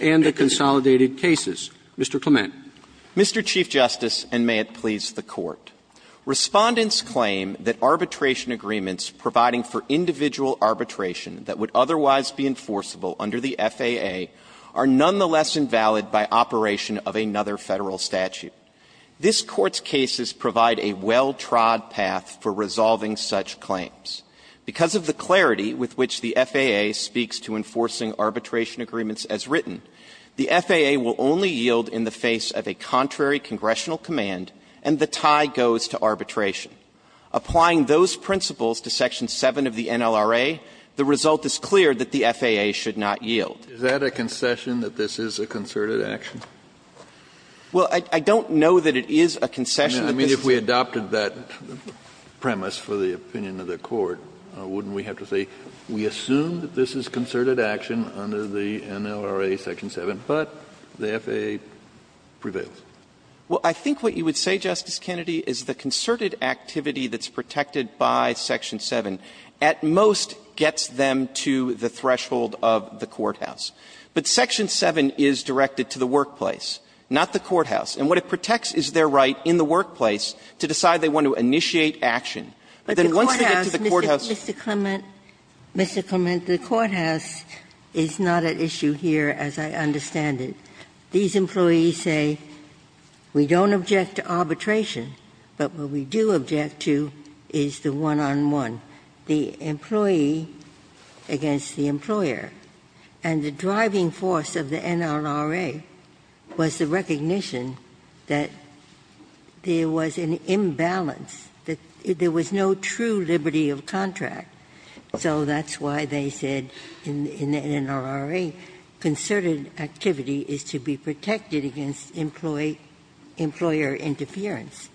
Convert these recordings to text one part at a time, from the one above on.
and the Consolidated Cases. Mr. Clement. Mr. Chief Justice, and may it please the Court, Respondents claim that arbitration agreements providing for individual arbitration that would otherwise be enforceable under the FAA are nonetheless invalid by operation of another Federal statute. implementation of the FAA's arbitration agreements. the FAA will only yield in the face of a contrary congressional command and the tie goes to arbitration. Applying those principles to Section 7 of the NLRA, the result is clear that the FAA should not yield. Is that a concession that this is a concerted action? Well, I don't know that it is a concession that this is a concerted action. I mean, if we adopted that, I don't know that it would be a concession for the opinion of the Court, wouldn't we have to say, we assume that this is concerted action under the NLRA Section 7, but the FAA prevails? Well, I think what you would say, Justice Kennedy, is the concerted activity that's protected by Section 7 at most gets them to the threshold of the courthouse. But Section 7 is directed to the workplace, not the courthouse. And what it protects is their right in the workplace to decide they want to initiate action. Then once they get to the courthouse. Ginsburg. Mr. Clement, Mr. Clement, the courthouse is not at issue here, as I understand it. These employees say, we don't object to arbitration, but what we do object to is the one-on-one, the employee against the employer. And the driving force of the NLRA is that there was an imbalance, that there was no true liberty of contract. So that's why they said in the NLRA concerted activity is to be protected against employee-employer interference.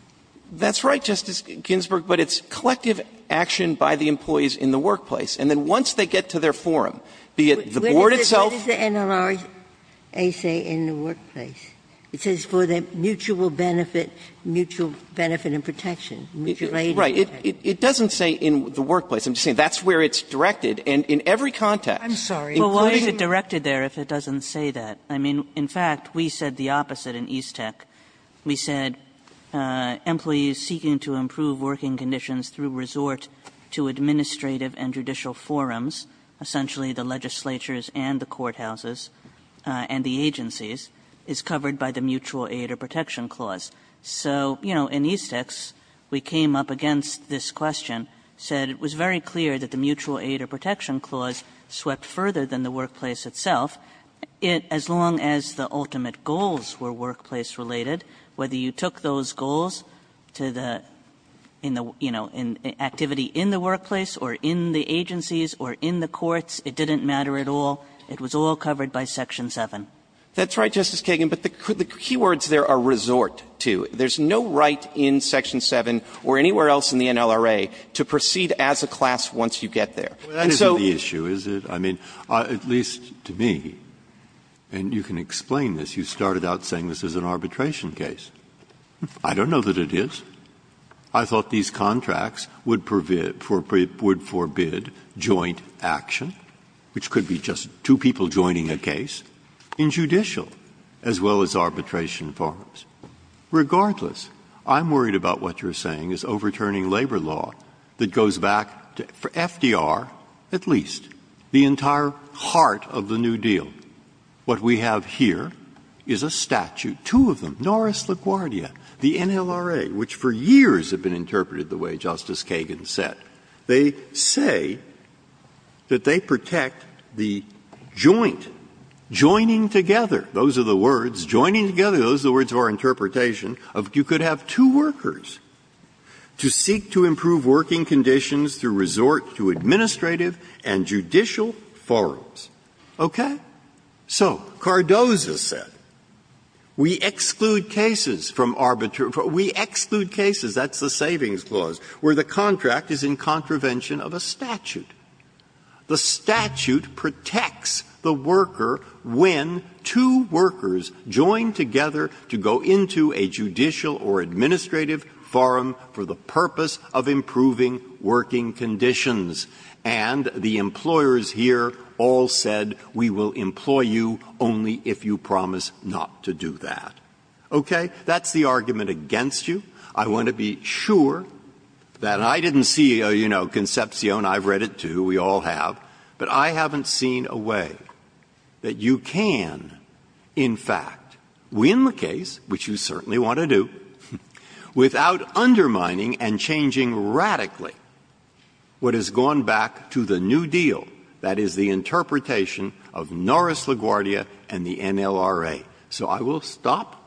That's right, Justice Ginsburg. But it's collective action by the employees in the workplace. And then once they get to their forum, be it the board itself. What does the NLRA say in the workplace? It says for the mutual benefit, mutual benefit and protection, mutual aid. Right. It doesn't say in the workplace. I'm just saying that's where it's directed. And in every context. I'm sorry. Well, why is it directed there if it doesn't say that? I mean, in fact, we said the opposite in EASTEC. We said employees seeking to improve working conditions through resort to administrative and judicial forums, essentially the legislatures and the courthouses and the agencies, is covered by the Mutual Aid or Protection Clause. So, you know, in EASTEC, we came up against this question, said it was very clear that the Mutual Aid or Protection Clause swept further than the workplace itself. It, as long as the ultimate goals were workplace-related, whether you took those goals to the, you know, activity in the workplace or in the agencies or in the courts, it didn't matter at all. It was all covered by Section 7. That's right, Justice Kagan, but the key words there are resort to. There's no right in Section 7 or anywhere else in the NLRA to proceed as a class once you get there. And so the issue is that, I mean, at least to me, and you can explain this, you started out saying this is an arbitration case. I don't know that it is. I thought these contracts would forbid joint action, which could be just two people joining a case, in judicial as well as arbitration forms. Regardless, I'm worried about what you're saying is overturning labor law that goes back to, for FDR at least, the entire heart of the New Deal. What we have here is a statute, two of them, Norris LaGuardia, the NLRA, which for years have been interpreted the way Justice Kagan said. They say that they protect the joint, joining together. Those are the words, joining together. Those are the words of our interpretation of you could have two workers to seek to improve working conditions through resort to administrative and judicial forms, okay? So Cardozo said, we exclude cases from arbitration. We exclude cases, that's the Savings Clause, where the contract is in contravention of a statute. The statute protects the worker when two workers join together to go into a judicial or administrative forum for the purpose of improving working conditions, and the employers here all said, we will employ you only if you promise not to do that, okay? That's the argument against you. I want to be sure that I didn't see, you know, Concepcion, I've read it, too, we all have, but I haven't seen a way that you can, in fact, win the case, which you certainly want to do, without undermining and changing radically what has gone back to the New Deal, that is, the interpretation of Norris LaGuardia and the NLRA. So I will stop.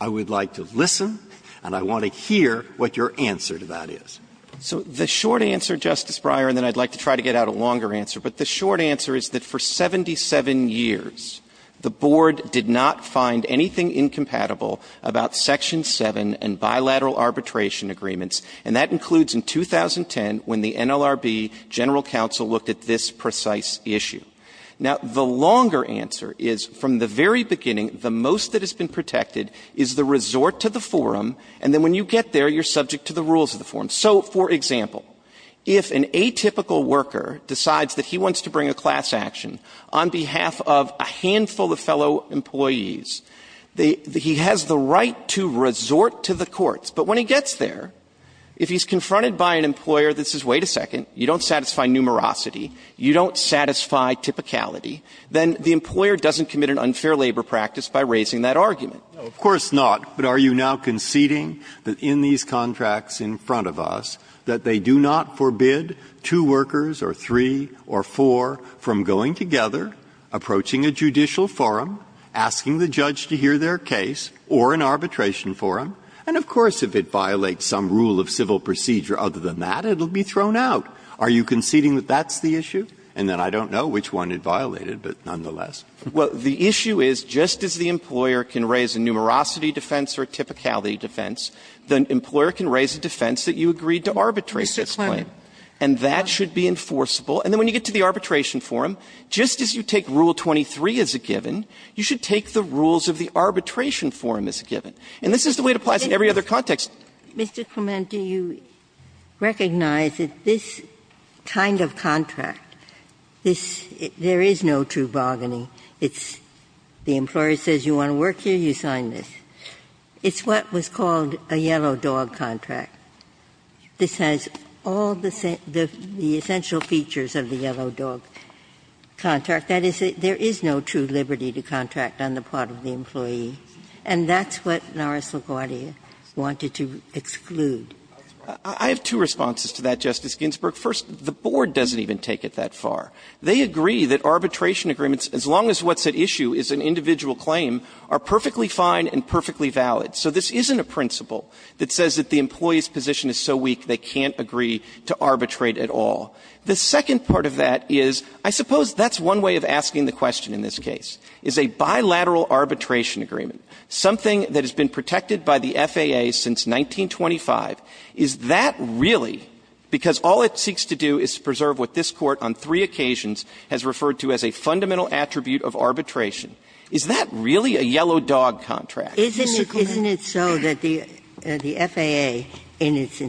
I would like to listen, and I want to hear what your answer to that is. So the short answer, Justice Breyer, and then I'd like to try to get out a longer answer, but the short answer is that for 77 years, the Board did not find anything incompatible about Section 7 and bilateral arbitration agreements, and that includes in 2010 when the NLRB general counsel looked at this precise issue. Now, the longer answer is, from the very beginning, the most that has been protected is the resort to the forum, and then when you get there, you're subject to the rules of the forum. So, for example, if an atypical worker decides that he wants to bring a class action on behalf of a handful of fellow employees, he has the right to resort to the courts. But when he gets there, if he's confronted by an employer that says, wait a second, you don't satisfy numerosity, you don't satisfy typicality, then the employer doesn't commit an unfair labor practice by raising that argument. Breyer, of course not, but are you now conceding that in these contracts in front of us that they do not forbid two workers or three or four from going together, approaching a judicial forum, asking the judge to hear their case, or an arbitration forum? And, of course, if it violates some rule of civil procedure other than that, it will be thrown out. Are you conceding that that's the issue? And then I don't know which one it violated, but nonetheless. Well, the issue is, just as the employer can raise a numerosity defense or a typicality defense, the employer can raise a defense that you agreed to arbitrate this claim. And that should be enforceable. And then when you get to the arbitration forum, just as you take Rule 23 as a given, you should take the rules of the arbitration forum as a given. And this is the way it applies in every other context. Ginsburg. Mr. Clement, do you recognize that this kind of contract, this — there is no true bargaining. It's the employer says you want to work here, you sign this. It's what was called a yellow dog contract. This has all the essential features of the yellow dog contract. That is, there is no true liberty to contract on the part of the employee. And that's what Norris LaGuardia wanted to exclude. I have two responses to that, Justice Ginsburg. First, the board doesn't even take it that far. They agree that arbitration agreements, as long as what's at issue is an individual claim, are perfectly fine and perfectly valid. So this isn't a principle that says that the employee's position is so weak they can't agree to arbitrate at all. The second part of that is, I suppose that's one way of asking the question in this case, is a bilateral arbitration agreement, something that has been protected by the FAA since 1925, is that really, because all it seeks to do is to preserve what this Court on three occasions has referred to as a fundamental attribute of arbitration, is that really a yellow dog contract? Ms. Sikorski. Isn't it so that the FAA, in its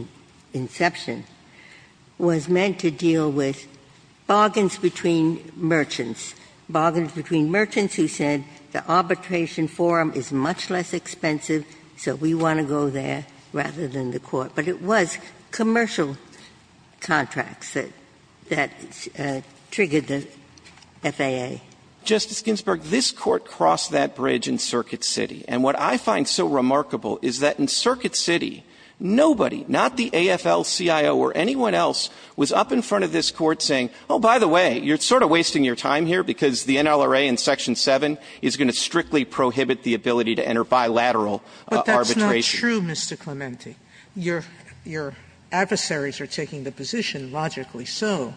inception, was meant to deal with bargains between merchants, bargains between merchants who said the arbitration forum is much less expensive, so we want to go there rather than the Court, but it was commercial contracts that triggered the FAA? Justice Ginsburg, this Court crossed that bridge in Circuit City. And what I find so remarkable is that in Circuit City, nobody, not the AFL-CIO or anyone else, was up in front of this Court saying, oh, by the way, you're sort of wasting your time here because the NLRA in Section 7 is going to strictly prohibit the ability to enter bilateral arbitration. Sotomayor But that's not true, Mr. Clementi. Your adversaries are taking the position, logically so,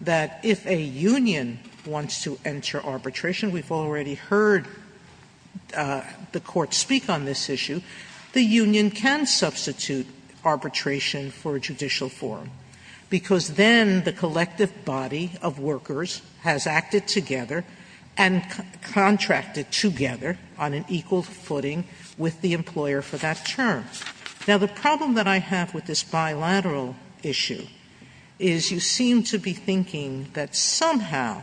that if a union wants to enter arbitration, we've already heard the Court speak on this issue, the union can substitute arbitration for judicial forum, because then the collective body of workers has acted together and contracted together on an equal footing with the employer for that term. Now, the problem that I have with this bilateral issue is you seem to be thinking that somehow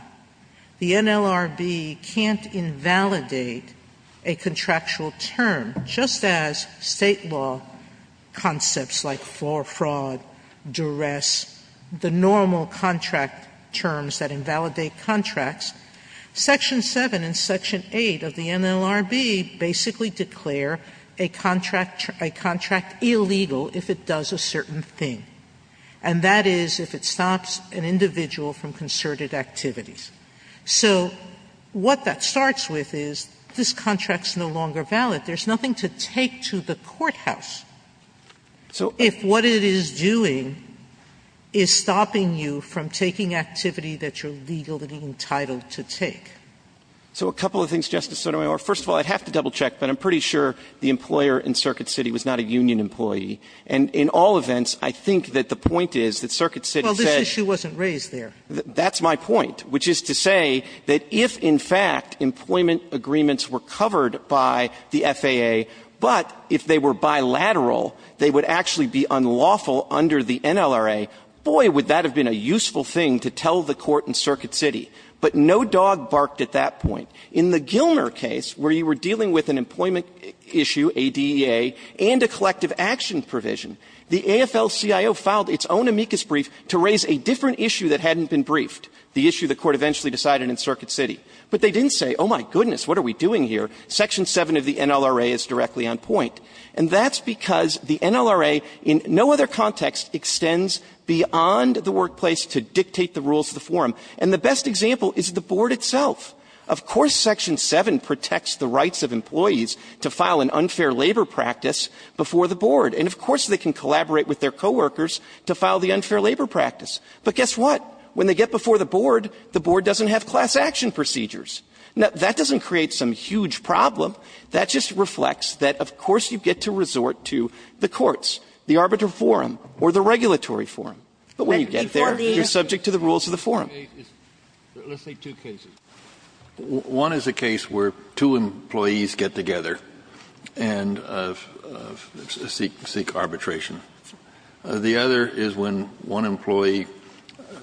the NLRB can't invalidate a contractual term, just as State law conceals concepts like for-fraud, duress, the normal contract terms that invalidate contracts. Section 7 and Section 8 of the NLRB basically declare a contract illegal if it does a certain thing, and that is if it stops an individual from concerted activities. So what that starts with is this contract is no longer valid. There's nothing to take to the courthouse. So if what it is doing is stopping you from taking activity that you're legally entitled to take. Clementi So a couple of things, Justice Sotomayor. First of all, I'd have to double-check, but I'm pretty sure the employer in Circuit City was not a union employee. And in all events, I think that the point is that Circuit City said that's my point, which is to say that if, in fact, employment agreements were covered by the FAA, but if they were bilateral, they would actually be unlawful under the NLRA, boy, would that have been a useful thing to tell the Court in Circuit City. But no dog barked at that point. In the Gilner case, where you were dealing with an employment issue, a DEA, and a collective action provision, the AFL-CIO filed its own amicus brief to raise a different issue that hadn't been briefed, the issue the Court eventually decided in Circuit City. But they didn't say, oh, my goodness, what are we doing here? Section 7 of the NLRA is directly on point. And that's because the NLRA in no other context extends beyond the workplace to dictate the rules of the forum. And the best example is the Board itself. Of course Section 7 protects the rights of employees to file an unfair labor practice before the Board. And of course they can collaborate with their coworkers to file the unfair labor practice. But guess what? When they get before the Board, the Board doesn't have class action procedures. Now, that doesn't create some huge problem. That just reflects that, of course, you get to resort to the courts, the arbitral forum, or the regulatory forum. But when you get there, you're subject to the rules of the forum. Kennedy, let's say two cases. One is a case where two employees get together and seek arbitration. The other is when one employee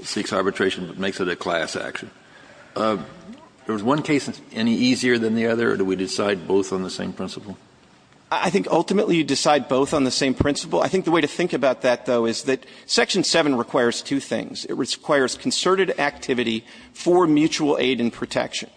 seeks arbitration but makes it a class action. Is one case any easier than the other, or do we decide both on the same principle? I think ultimately you decide both on the same principle. I think the way to think about that, though, is that Section 7 requires two things. It requires concerted activity for mutual aid and protection.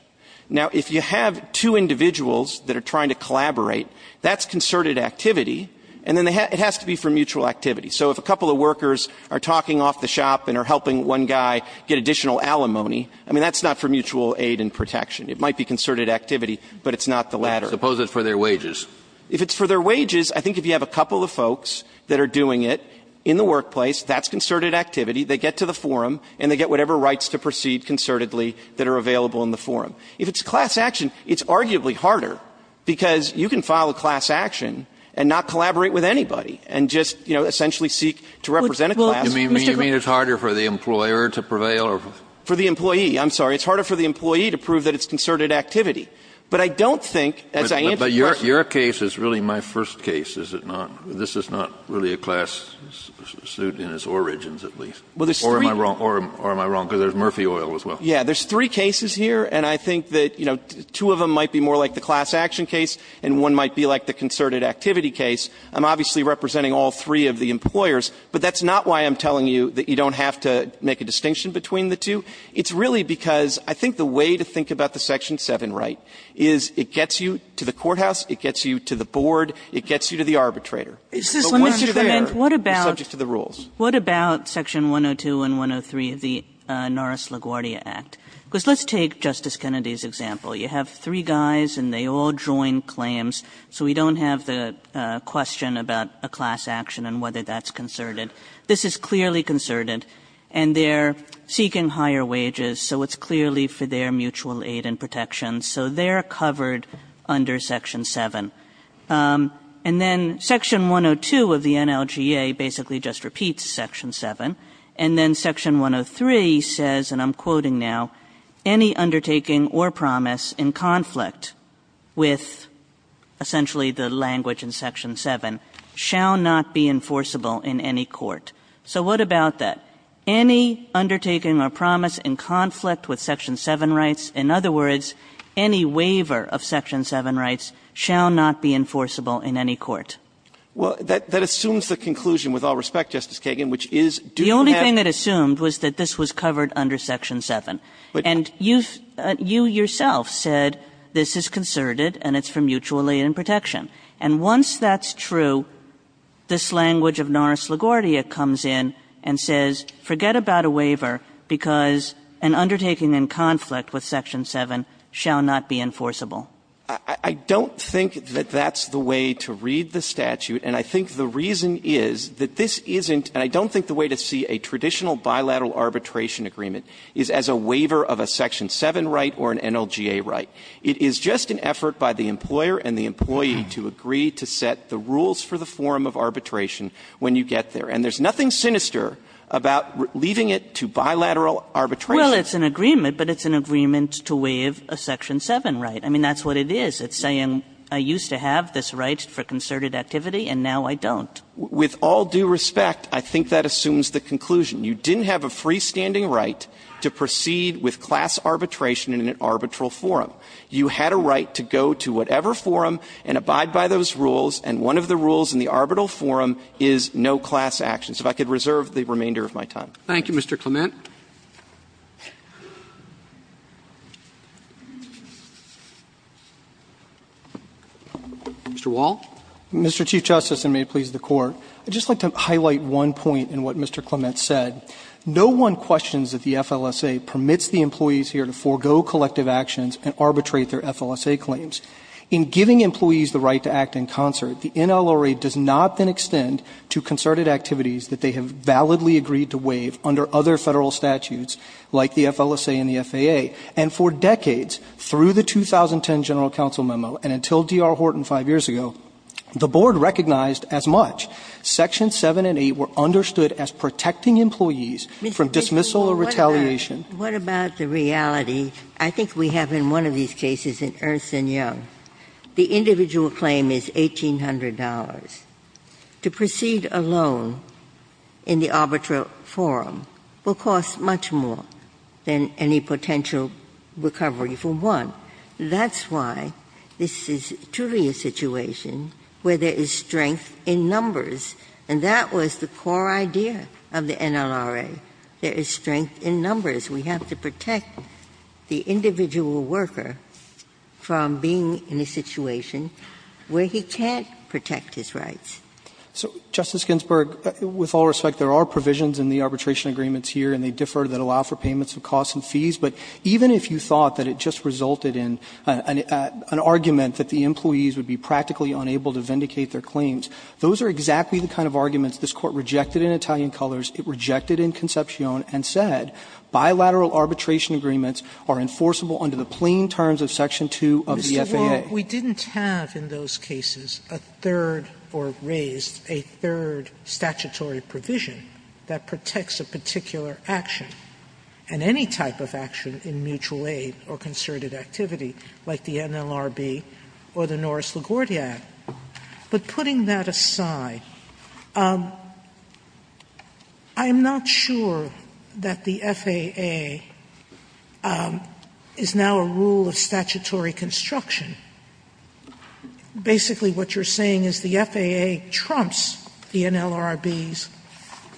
Now, if you have two individuals that are trying to collaborate, that's concerted activity. And then it has to be for mutual activity. So if a couple of workers are talking off the shop and are helping one guy get additional alimony, I mean, that's not for mutual aid and protection. It might be concerted activity, but it's not the latter. Suppose it's for their wages. If it's for their wages, I think if you have a couple of folks that are doing it in the workplace, that's concerted activity. They get to the forum and they get whatever rights to proceed concertedly that are available in the forum. If it's class action, it's arguably harder, because you can file a class action a class. You mean it's harder for the employer to prevail or for the employee? I'm sorry. It's harder for the employee to prove that it's concerted activity. But I don't think, as I answer the question. But your case is really my first case, is it not? This is not really a class suit in its origins, at least. Or am I wrong? Or am I wrong? Because there's Murphy Oil as well. Yeah. There's three cases here, and I think that, you know, two of them might be more like the class action case and one might be like the concerted activity case. I'm obviously representing all three of the employers. But that's not why I'm telling you that you don't have to make a distinction between the two. It's really because I think the way to think about the Section 7 right is it gets you to the courthouse, it gets you to the board, it gets you to the arbitrator. But once you're there, you're subject to the rules. Kagan. What about Section 102 and 103 of the Norris-LaGuardia Act? Because let's take Justice Kennedy's example. You have three guys and they all join claims, so we don't have the question about a class action and whether that's concerted. This is clearly concerted. And they're seeking higher wages, so it's clearly for their mutual aid and protection. So they're covered under Section 7. And then Section 102 of the NLGA basically just repeats Section 7. And then Section 103 says, and I'm quoting now, any undertaking or promise in conflict with essentially the language in Section 7 shall not be enforceable in any court. So what about that? Any undertaking or promise in conflict with Section 7 rights, in other words, any waiver of Section 7 rights, shall not be enforceable in any court. Well, that assumes the conclusion, with all respect, Justice Kagan, which is do you have to? The only thing it assumed was that this was covered under Section 7. And you yourself said this is concerted and it's for mutual aid and protection. And once that's true, this language of Norris LaGuardia comes in and says, forget about a waiver, because an undertaking in conflict with Section 7 shall not be enforceable. I don't think that that's the way to read the statute. And I think the reason is that this isn't, and I don't think the way to see a traditional bilateral arbitration agreement is as a waiver of a Section 7 right or an NLGA right. It is just an effort by the employer and the employee to agree to set the rules for the forum of arbitration when you get there. And there's nothing sinister about leaving it to bilateral arbitration. Well, it's an agreement, but it's an agreement to waive a Section 7 right. I mean, that's what it is. It's saying I used to have this right for concerted activity and now I don't. With all due respect, I think that assumes the conclusion. You didn't have a freestanding right to proceed with class arbitration in an arbitral forum. You had a right to go to whatever forum and abide by those rules, and one of the rules in the arbitral forum is no class actions. If I could reserve the remainder of my time. Roberts. Thank you, Mr. Clement. Mr. Wall. Mr. Chief Justice, and may it please the Court, I'd just like to highlight one point in what Mr. Clement said. No one questions that the FLSA permits the employees here to forego collective actions and arbitrate their FLSA claims. In giving employees the right to act in concert, the NLRA does not then extend to concerted activities that they have validly agreed to waive under other Federal statutes like the FLSA and the FAA. And for decades, through the 2010 General Counsel memo and until D.R. Horton five years ago, the Board recognized as much. Section 7 and 8 were understood as protecting employees from dismissal or retaliation. What about the reality? I think we have in one of these cases in Ernst & Young, the individual claim is $1,800. To proceed alone in the arbitral forum will cost much more than any potential recovery for one. That's why this is truly a situation where there is strength in numbers, and that was the core idea of the NLRA. There is strength in numbers. We have to protect the individual worker from being in a situation where he can't protect his rights. So, Justice Ginsburg, with all respect, there are provisions in the arbitration agreements here, and they differ, that allow for payments of costs and fees. But even if you thought that it just resulted in an argument that the employees would be practically unable to vindicate their claims, those are exactly the kind of arguments this Court rejected in Italian Colors, it rejected in Concepcion, and said, bilateral arbitration agreements are enforceable under the plain terms of section 2 of the FAA. Sotomayor, we didn't have in those cases a third or raised a third statutory provision that protects a particular action and any type of action in mutual aid or concerted activity like the NLRB or the Norris LaGuardia Act. But putting that aside, I'm not sure that the FAA is now a rule of statutory construction. Basically, what you're saying is the FAA trumps the NLRB's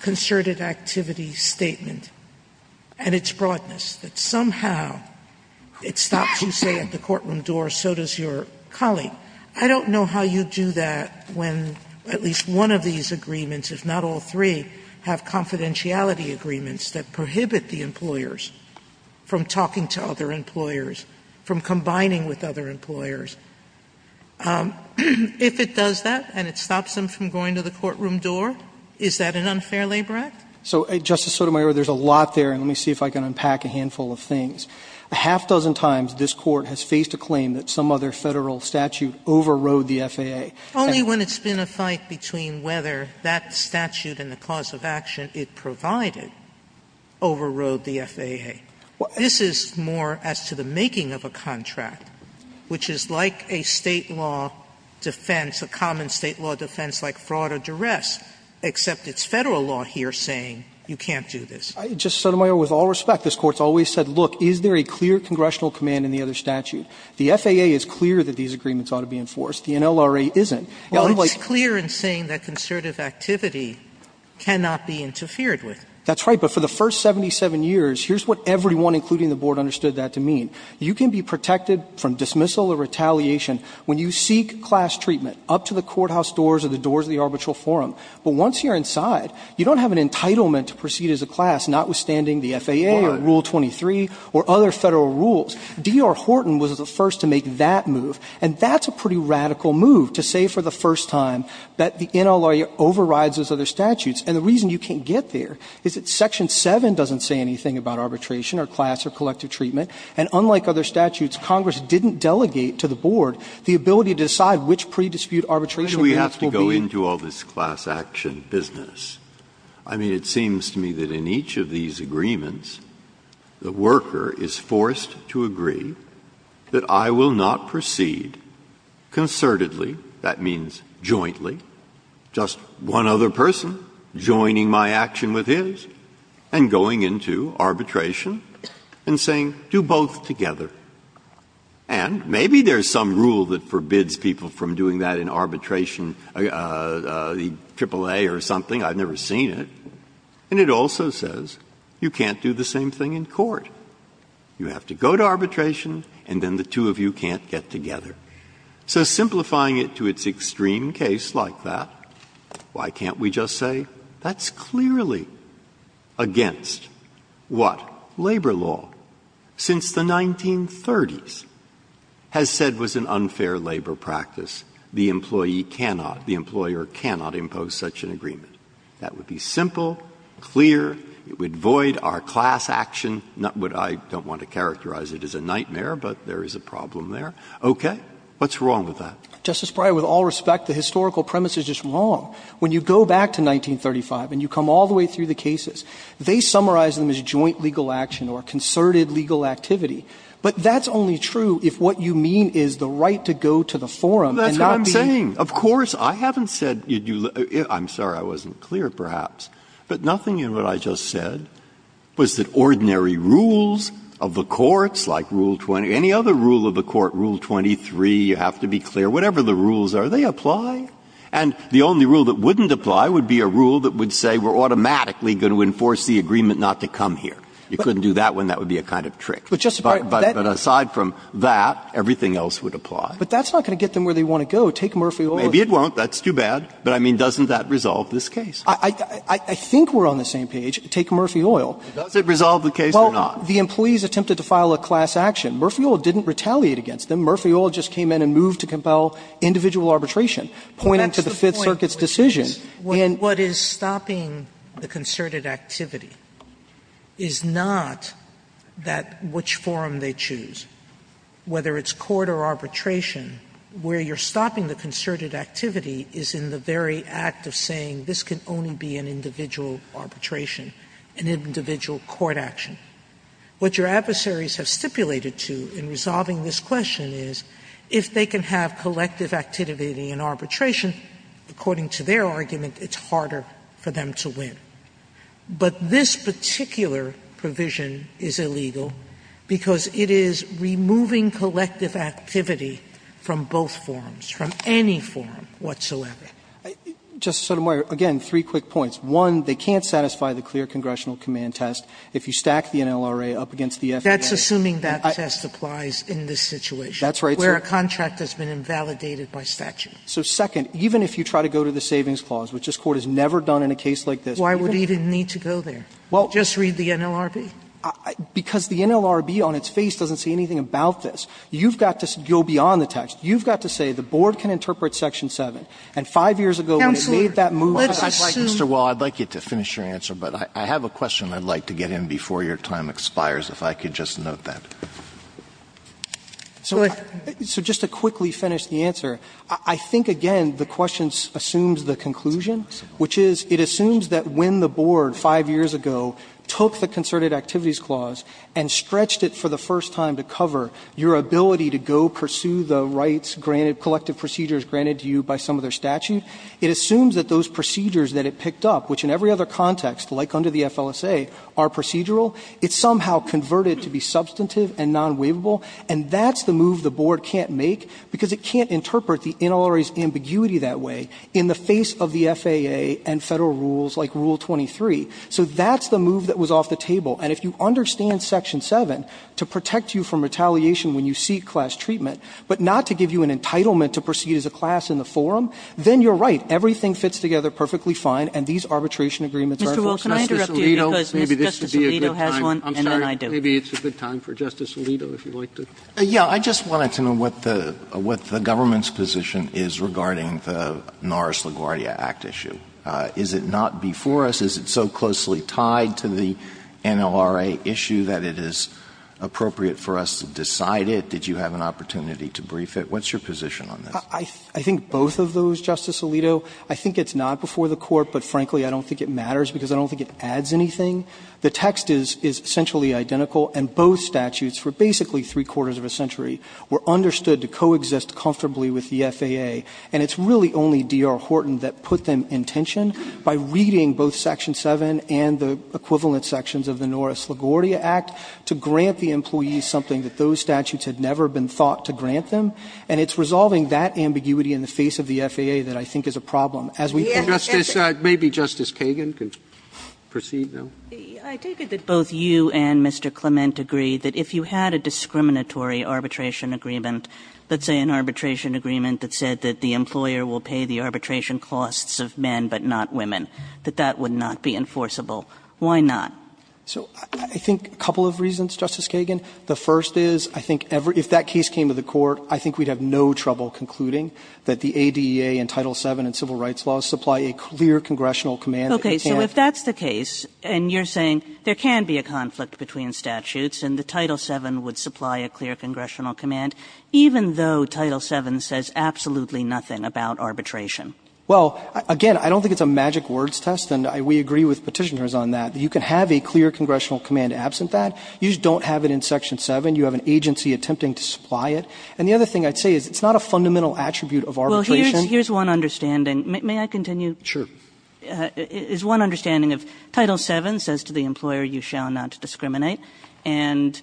concerted activity statement and its broadness, that somehow it stops you, say, at the courtroom door, so does your colleague. I don't know how you do that when at least one of these agreements, if not all three, have confidentiality agreements that prohibit the employers from talking to other employers, from combining with other employers. If it does that and it stops them from going to the courtroom door, is that an unfair labor act? So, Justice Sotomayor, there's a lot there, and let me see if I can unpack a handful of things. A half-dozen times, this Court has faced a claim that some other Federal statute overrode the FAA. Sotomayor, with all respect, this Court has always said, look, is there any way to the FAA. Is there a clear congressional command in the other statute? The FAA is clear that these agreements ought to be enforced. The NLRA isn't. It's clear in saying that concerted activity cannot be interfered with. That's right. But for the first 77 years, here's what everyone, including the Board, understood that to mean. You can be protected from dismissal or retaliation when you seek class treatment up to the courthouse doors or the doors of the arbitral forum. But once you're inside, you don't have an entitlement to proceed as a class, notwithstanding the FAA or Rule 23 or other Federal rules. D.R. Horton was the first to make that move, and that's a pretty radical move to say for the first time that the NLRA overrides those other statutes. And the reason you can't get there is that Section 7 doesn't say anything about arbitration or class or collective treatment, and unlike other statutes, Congress didn't delegate to the Board the ability to decide which pre-dispute arbitration agreements will be. Breyer, do we have to go into all this class action business? I mean, it seems to me that in each of these agreements, the worker is forced to agree that I will not proceed concertedly, that means jointly, just one other person joining my action with his, and going into arbitration and saying, do both together. And maybe there's some rule that forbids people from doing that in arbitration, the AAA or something, I've never seen it, and it also says you can't do the same thing in court. You have to go to arbitration, and then the two of you can't get together. So simplifying it to its extreme case like that, why can't we just say that's clearly against what labor law, since the 1930s, has said was an unfair labor practice. The employee cannot, the employer cannot impose such an agreement. That would be simple, clear, it would void our class action, not what I don't want to characterize it as a nightmare, but there is a problem there. Okay. What's wrong with that? Breyer, with all respect, the historical premise is just wrong. When you go back to 1935 and you come all the way through the cases, they summarize them as joint legal action or concerted legal activity. But that's only true if what you mean is the right to go to the forum and say, you know, this is what I'm saying. Of course, I haven't said you do the – I'm sorry, I wasn't clear, perhaps, but nothing in what I just said was that ordinary rules of the courts, like Rule 20, any other rule of the court, Rule 23, you have to be clear, whatever the rules are, they apply. And the only rule that wouldn't apply would be a rule that would say we're automatically going to enforce the agreement not to come here. You couldn't do that one, that would be a kind of trick. But aside from that, everything else would apply. But that's not going to get them where they want to go. Take Murphy Oil. Maybe it won't, that's too bad, but I mean, doesn't that resolve this case? I think we're on the same page. Take Murphy Oil. Does it resolve the case or not? Well, the employees attempted to file a class action. Murphy Oil didn't retaliate against them. Murphy Oil just came in and moved to compel individual arbitration, pointing to the Fifth Circuit's decision. And what is stopping the concerted activity is not that – which forum they choose. Whether it's court or arbitration, where you're stopping the concerted activity is in the very act of saying this can only be an individual arbitration, an individual court action. What your adversaries have stipulated to in resolving this question is if they can have collective activity in arbitration, according to their argument, it's harder for them to win. But this particular provision is illegal because it is removing collective activity from both forums, from any forum whatsoever. Justice Sotomayor, again, three quick points. One, they can't satisfy the clear congressional command test if you stack the NLRA up against the FDA. That's assuming that test applies in this situation. That's right, sir. Where a contract has been invalidated by statute. So second, even if you try to go to the savings clause, which this Court has never done in a case like this. Sotomayor, why would it even need to go there? Just read the NLRB? Because the NLRB on its face doesn't say anything about this. You've got to go beyond the text. You've got to say the board can interpret section 7, and five years ago when it made that move. Sotomayor, let's assume. Mr. Wall, I'd like you to finish your answer, but I have a question I'd like to get in before your time expires, if I could just note that. So just to quickly finish the answer, I think, again, the question assumes the conclusion, which is it assumes that when the board five years ago took the concerted activities clause and stretched it for the first time to cover your ability to go pursue the rights granted, collective procedures granted to you by some of their statute, it assumes that those procedures that it picked up, which in every other context, like under the FLSA, are procedural. It's somehow converted to be substantive and non-waivable, and that's the move the board can't make because it can't interpret the NLRB's ambiguity that way in the face of the FAA and Federal rules like Rule 23. So that's the move that was off the table. And if you understand section 7 to protect you from retaliation when you seek class treatment, but not to give you an entitlement to proceed as a class in the forum, then you're right. Everything fits together perfectly fine, and these arbitration agreements are at first Justice Alito. Maybe this would be a good time. I'm sorry, maybe it's a good time for Justice Alito, if you'd like to. Alito, I just wanted to know what the government's position is regarding the Norris-LaGuardia Act issue. Is it not before us? Is it so closely tied to the NLRA issue that it is appropriate for us to decide it? Did you have an opportunity to brief it? What's your position on this? I think both of those, Justice Alito. I think it's not before the Court, but frankly, I don't think it matters because I don't think it adds anything. The text is essentially identical, and both statutes for basically three-quarters of a century were understood to coexist comfortably with the FAA, and it's really only D.R. Horton that put them in tension by reading both section 7 and the equivalent sections of the Norris-LaGuardia Act to grant the employees something that those statutes had never been thought to grant them, and it's resolving that ambiguity in the face of the FAA that I think is a problem. As we think it's a problem. Roberts, Justice Kagan can proceed now. I take it that both you and Mr. Clement agree that if you had a discriminatory arbitration agreement, let's say an arbitration agreement that said that the employer will pay the arbitration costs of men but not women, that that would not be enforceable. Why not? So I think a couple of reasons, Justice Kagan. The first is, I think if that case came to the Court, I think we'd have no trouble concluding that the ADEA and Title VII and civil rights laws supply a clear congressional command. Okay. So if that's the case, and you're saying there can be a conflict between statutes and the Title VII would supply a clear congressional command, even though Title VII says absolutely nothing about arbitration. Well, again, I don't think it's a magic words test, and we agree with Petitioners on that. You can have a clear congressional command absent that. You just don't have it in section 7. You have an agency attempting to supply it. And the other thing I'd say is it's not a fundamental attribute of arbitration. Well, here's one understanding. May I continue? Sure. It's one understanding of Title VII says to the employer, you shall not discriminate. And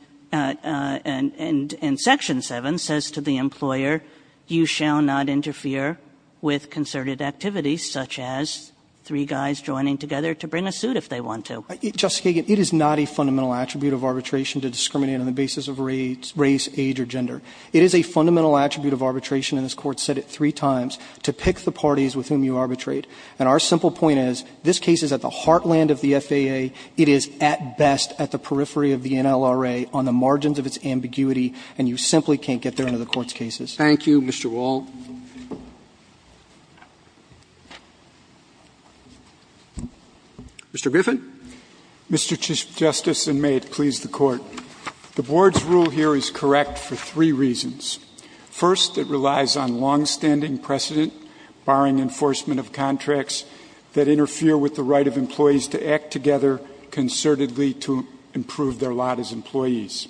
section 7 says to the employer, you shall not interfere with concerted activities such as three guys joining together to bring a suit if they want to. Justice Kagan, it is not a fundamental attribute of arbitration to discriminate on the basis of race, age, or gender. It is a fundamental attribute of arbitration, and this Court said it three times, to pick the parties with whom you arbitrate. And our simple point is, this case is at the heartland of the FAA. It is, at best, at the periphery of the NLRA on the margins of its ambiguity, and you simply can't get there under the Court's cases. Thank you, Mr. Wall. Mr. Biffen. Mr. Chief Justice, and may it please the Court. The Board's rule here is correct for three reasons. First, it relies on long-standing precedent, barring enforcement of contracts that interfere with the right of employees to act together concertedly to improve their lot as employees.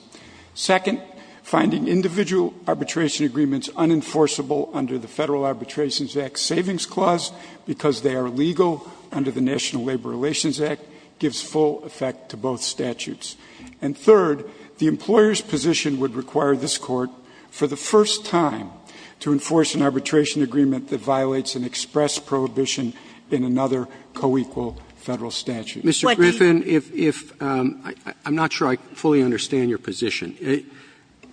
Second, finding individual arbitration agreements unenforceable under the Federal Arbitration Act Savings Clause, because they are legal under the National Labor Relations Act, gives full effect to both statutes. And third, the employer's position would require this Court, for the first time, to enforce an arbitration agreement that violates an express prohibition in another co-equal Federal statute. Mr. Griffin, if you can, I'm not sure I fully understand your position.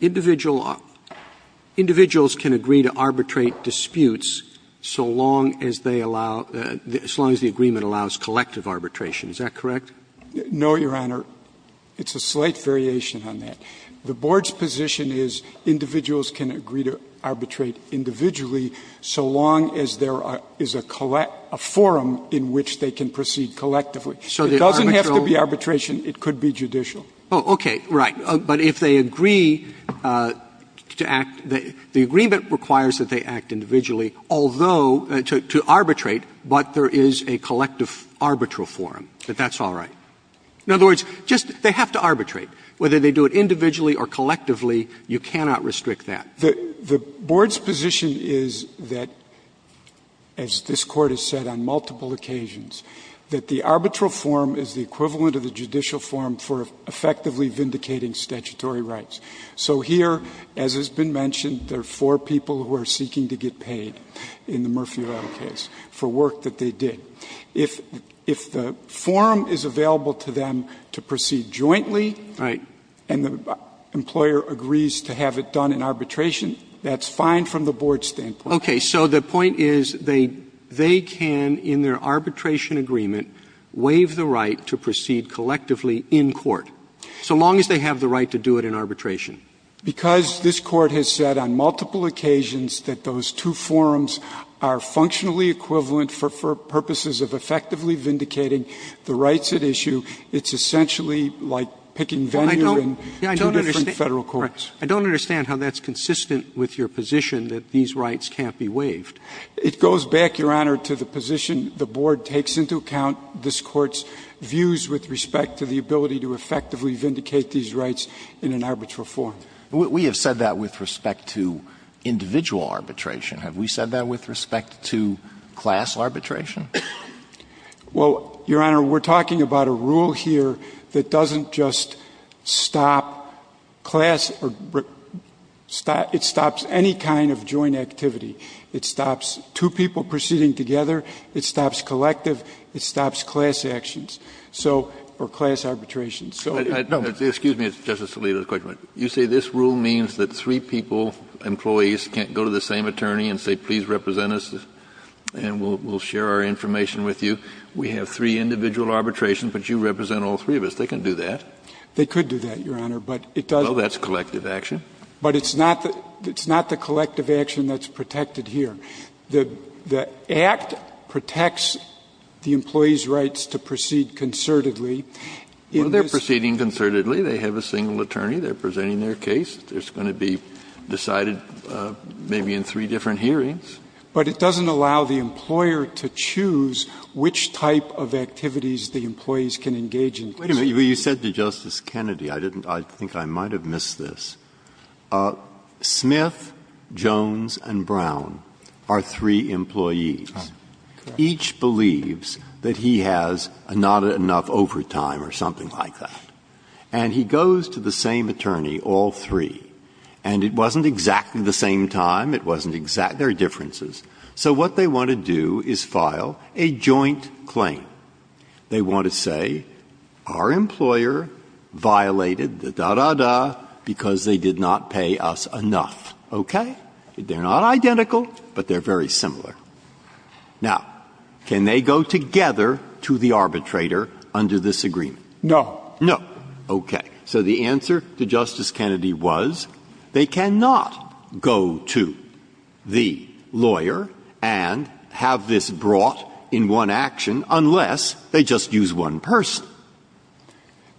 Individuals can agree to arbitrate disputes so long as they allow, as long as the agreement allows collective arbitration, is that correct? No, Your Honor. It's a slight variation on that. The Board's position is individuals can agree to arbitrate individually so long as there is a forum in which they can proceed collectively. So it doesn't have to be arbitration, it could be judicial. Oh, okay, right. But if they agree to act, the agreement requires that they act individually, although, to arbitrate, but there is a collective arbitral forum, but that's all right. In other words, just they have to arbitrate. Whether they do it individually or collectively, you cannot restrict that. The Board's position is that, as this Court has said on multiple occasions, that the arbitral forum is the equivalent of the judicial forum for effectively vindicating statutory rights. So here, as has been mentioned, there are four people who are seeking to get paid in the Murphy-Rado case for work that they did. If the forum is available to them to proceed jointly and the employer agrees to have it done in arbitration, that's fine from the Board's standpoint. Okay. So the point is they can, in their arbitration agreement, waive the right to proceed collectively in court so long as they have the right to do it in arbitration. Because this Court has said on multiple occasions that those two forums are functionally equivalent for purposes of effectively vindicating the rights at issue, it's essentially like picking venue in two different Federal courts. I don't understand how that's consistent with your position that these rights can't be waived. It goes back, Your Honor, to the position the Board takes into account this Court's views with respect to the ability to effectively vindicate these rights in an arbitral forum. We have said that with respect to individual arbitration. Have we said that with respect to class arbitration? Well, Your Honor, we're talking about a rule here that doesn't just stop class or stop any kind of joint activity. It stops two people proceeding together. It stops collective. It stops class actions. So, or class arbitration. So, no. Excuse me, Justice Alito, a quick one. You say this rule means that three people, employees, can't go to the same attorney and say, please represent us and we'll share our information with you. We have three individual arbitrations, but you represent all three of us. They can do that. They could do that, Your Honor, but it doesn't. Well, that's collective action. But it's not the collective action that's protected here. The Act protects the employees' rights to proceed concertedly. Well, they're proceeding concertedly. They have a single attorney. They're presenting their case. It's going to be decided maybe in three different hearings. But it doesn't allow the employer to choose which type of activities the employees can engage in. Wait a minute. You said to Justice Kennedy, I didn't – I think I might have missed this. Smith, Jones, and Brown are three employees. Correct. Each believes that he has not enough overtime or something like that. And he goes to the same attorney, all three. And it wasn't exactly the same time. It wasn't exact – there are differences. So what they want to do is file a joint claim. They want to say, our employer violated the da-da-da because they did not pay us enough. Okay? They're not identical, but they're very similar. Now, can they go together to the arbitrator under this agreement? No. No. Okay. So the answer to Justice Kennedy was, they cannot go to the lawyer and have this brought in one action unless they just use one person.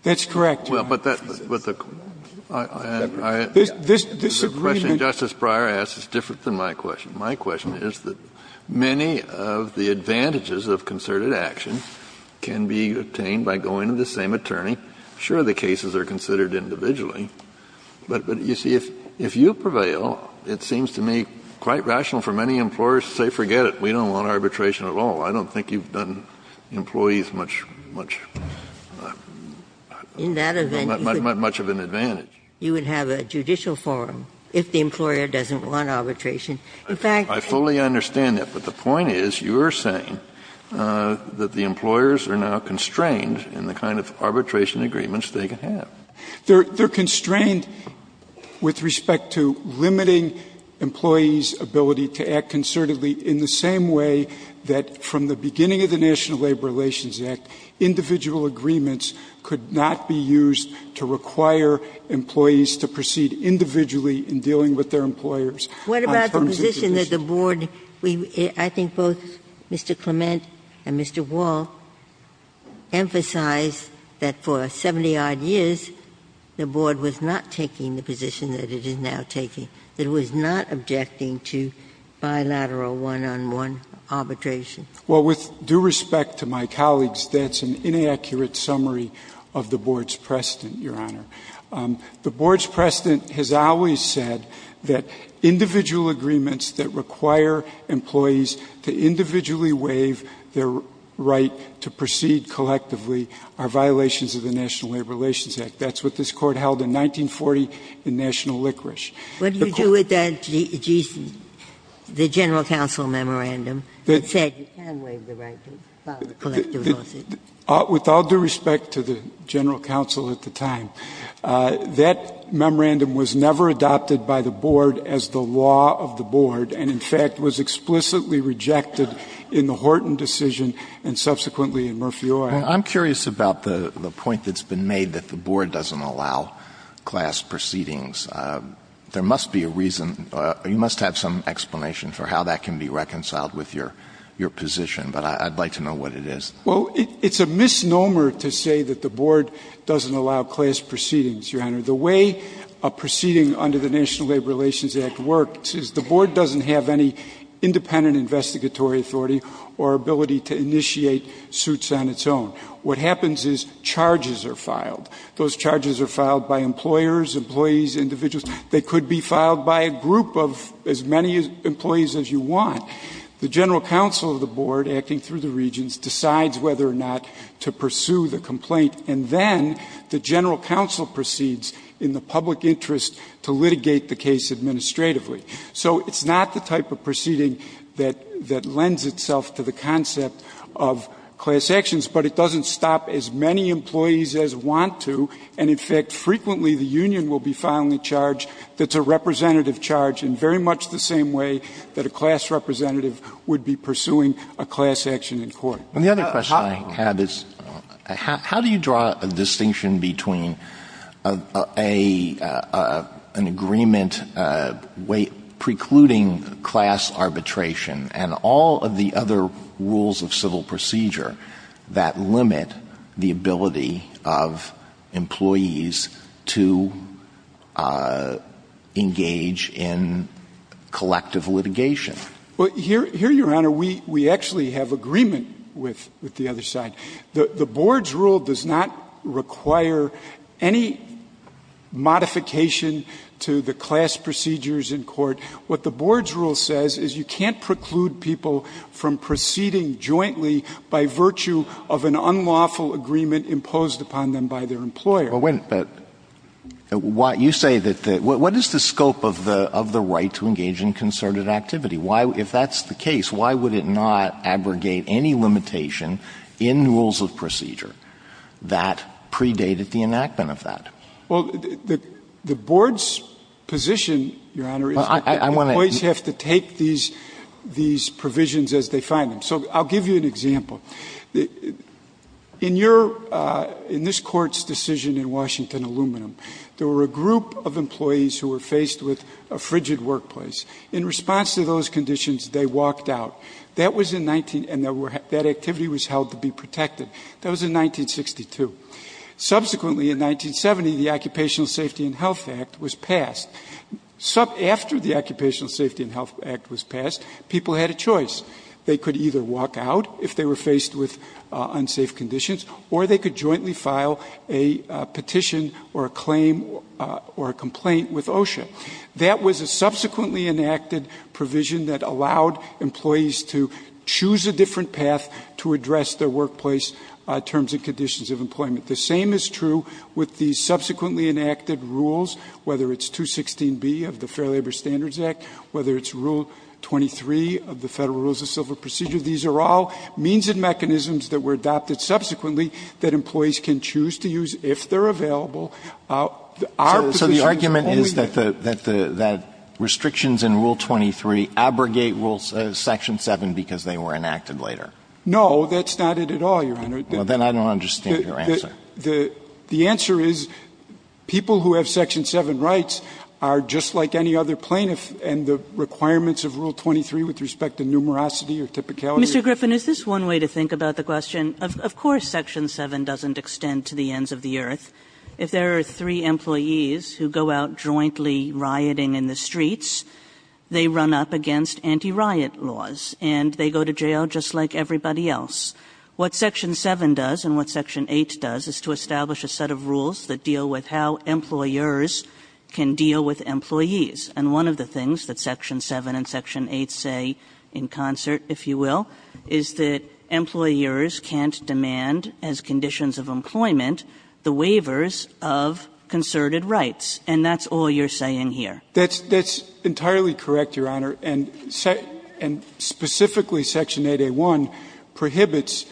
That's correct, Your Honor. Well, but that – but the question Justice Breyer asked is different than my question. My question is that many of the advantages of concerted action can be obtained by going to the same attorney. Sure, the cases are considered individually. But, you see, if you prevail, it seems to me quite rational for many employers to say, forget it, we don't want arbitration at all. I don't think you've done employees much – much of an advantage. In that event, you would have a judicial forum if the employer doesn't want arbitration. In fact – I fully understand that. But the point is, you are saying that the employers are now constrained in the kind of arbitration agreements they can have. They're constrained with respect to limiting employees' ability to act concertedly in the same way that from the beginning of the National Labor Relations Act, individual agreements could not be used to require employees to proceed individually in dealing with their employers. What about the position that the board – I think both Mr. Clement and Mr. Wall emphasized that for 70-odd years, the board was not taking the position that it is now taking, that it was not objecting to bilateral one-on-one arbitration. Well, with due respect to my colleagues, that's an inaccurate summary of the board's precedent, Your Honor. The board's precedent has always said that individual agreements that require employees to individually waive their right to proceed collectively are violations of the National Labor Relations Act. That's what this Court held in 1940 in National Liquorice. What do you do with the general counsel memorandum that said you can waive the right to file a collective lawsuit? With all due respect to the general counsel at the time, that memorandum was never adopted by the board as the law of the board and, in fact, was explicitly rejected in the Horton decision and subsequently in Murphy Oil. I'm curious about the point that's been made that the board doesn't allow class proceedings. There must be a reason – you must have some explanation for how that can be reconciled with your position, but I'd like to know what it is. Well, it's a misnomer to say that the board doesn't allow class proceedings, Your Honor. The way a proceeding under the National Labor Relations Act works is the board doesn't have any independent investigatory authority or ability to initiate suits on its own. What happens is charges are filed. Those charges are filed by employers, employees, individuals. They could be filed by a group of as many employees as you want. The general counsel of the board, acting through the regions, decides whether or not to pursue the complaint and then the general counsel proceeds in the public interest to litigate the case administratively. So it's not the type of proceeding that lends itself to the concept of class actions, but it doesn't stop as many employees as want to and, in fact, frequently the union will be filing a charge that's a representative charge in very much the same way that a class representative would be pursuing a class action in court. And the other question I have is how do you draw a distinction between an agreement precluding class arbitration and all of the other rules of civil procedure that limit the ability of employees to engage in collective litigation? Well, here, Your Honor, we actually have agreement with the other side. The board's rule does not require any modification to the class procedures in court. What the board's rule says is you can't preclude people from proceeding jointly by virtue of an unlawful agreement imposed upon them by their employer. But you say that what is the scope of the right to engage in concerted activity? Why, if that's the case, why would it not abrogate any limitation in rules of procedure that predated the enactment of that? Well, the board's position, Your Honor, is that employees have to take these provisions as they find them. So I'll give you an example. In your — in this Court's decision in Washington Aluminum, there were a group of employees who were faced with a frigid workplace. In response to those conditions, they walked out. That was in — and that activity was held to be protected. That was in 1962. Subsequently, in 1970, the Occupational Safety and Health Act was passed. After the Occupational Safety and Health Act was passed, people had a choice. They could either walk out if they were faced with unsafe conditions, or they could jointly file a petition or a claim or a complaint with OSHA. That was a subsequently enacted provision that allowed employees to choose a different path to address their workplace terms and conditions of employment. The same is true with the subsequently enacted rules, whether it's 216B of the Fair Labor Standards Act, whether it's Rule 23 of the Federal Rules of Civil Procedure. These are all means and mechanisms that were adopted subsequently that employees can choose to use if they're available. Our position is only that the — So the argument is that the — that restrictions in Rule 23 abrogate Rule — Section 7 because they were enacted later? No, that's not it at all, Your Honor. Well, then I don't understand your answer. The answer is people who have Section 7 rights are just like any other plaintiff, and the requirements of Rule 23 with respect to numerosity or typicality — Mr. Griffin, is this one way to think about the question? Of course Section 7 doesn't extend to the ends of the earth. If there are three employees who go out jointly rioting in the streets, they run up against anti-riot laws, and they go to jail just like everybody else. What Section 7 does and what Section 8 does is to establish a set of rules that deal with how employers can deal with employees. And one of the things that Section 7 and Section 8 say in concert, if you will, is that you have to have a set of rules that deal with the behaviors of concerted rights. And that's all you're saying here. That's entirely correct, Your Honor. And specifically Section 8A1 prohibits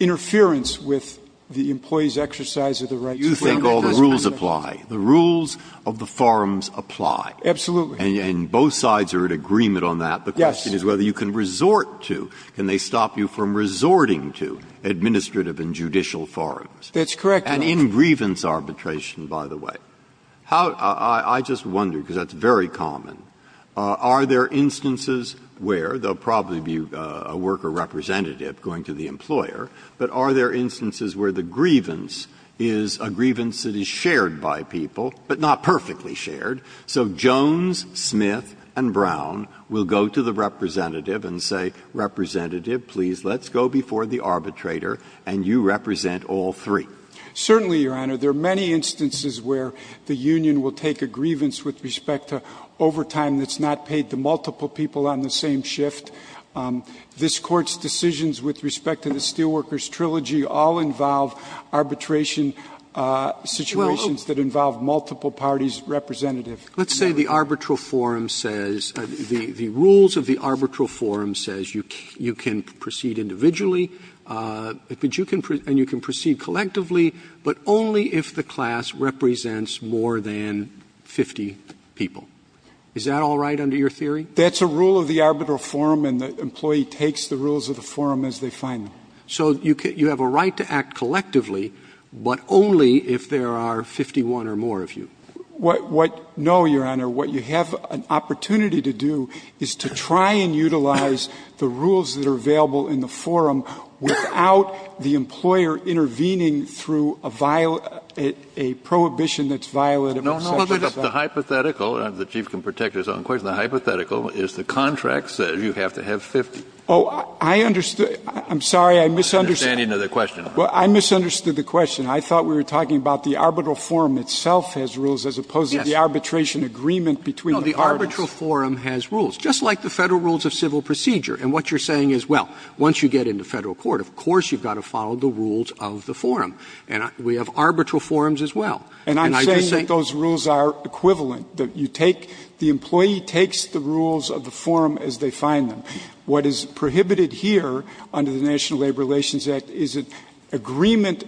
interference with the employee's exercise of the rights of the employee. You think all the rules apply. The rules of the forums apply. Absolutely. And both sides are in agreement on that. Yes. The question is whether you can resort to, can they stop you from resorting to administrative and judicial forums? That's correct, Your Honor. And in grievance arbitration, by the way, how — I just wonder, because that's very common, are there instances where — there will probably be a worker representative going to the employer, but are there instances where the grievance is a grievance that is shared by people, but not perfectly shared? So Jones, Smith, and Brown will go to the representative and say, Representative, please, let's go before the arbitrator, and you represent all three. Certainly, Your Honor. There are many instances where the union will take a grievance with respect to overtime that's not paid to multiple people on the same shift. This Court's decisions with respect to the Steelworkers Trilogy all involve arbitration situations that involve multiple parties representative. Let's say the arbitral forum says — the rules of the arbitral forum says you can proceed individually, but you can — and you can proceed collectively, but only if the class represents more than 50 people. Is that all right under your theory? That's a rule of the arbitral forum, and the employee takes the rules of the forum as they find them. So you have a right to act collectively, but only if there are 51 or more of you. What — no, Your Honor. What you have an opportunity to do is to try and utilize the rules that are available in the forum without the employer intervening through a violation — a prohibition that's violated by Section 7. No, no, no, the hypothetical — the Chief can protect his own question — the hypothetical is the contract says you have to have 50. Oh, I understood — I'm sorry. I misunderstood — The understanding of the question. Well, I misunderstood the question. I thought we were talking about the arbitral forum itself has rules as opposed to the arbitration agreement between the parties. No, the arbitral forum has rules, just like the Federal Rules of Civil Procedure. And what you're saying is, well, once you get into Federal court, of course you've got to follow the rules of the forum. And we have arbitral forums as well. And I just think — And I'm saying that those rules are equivalent, that you take — the employee takes the rules of the forum as they find them. What is prohibited here under the National Labor Relations Act is an agreement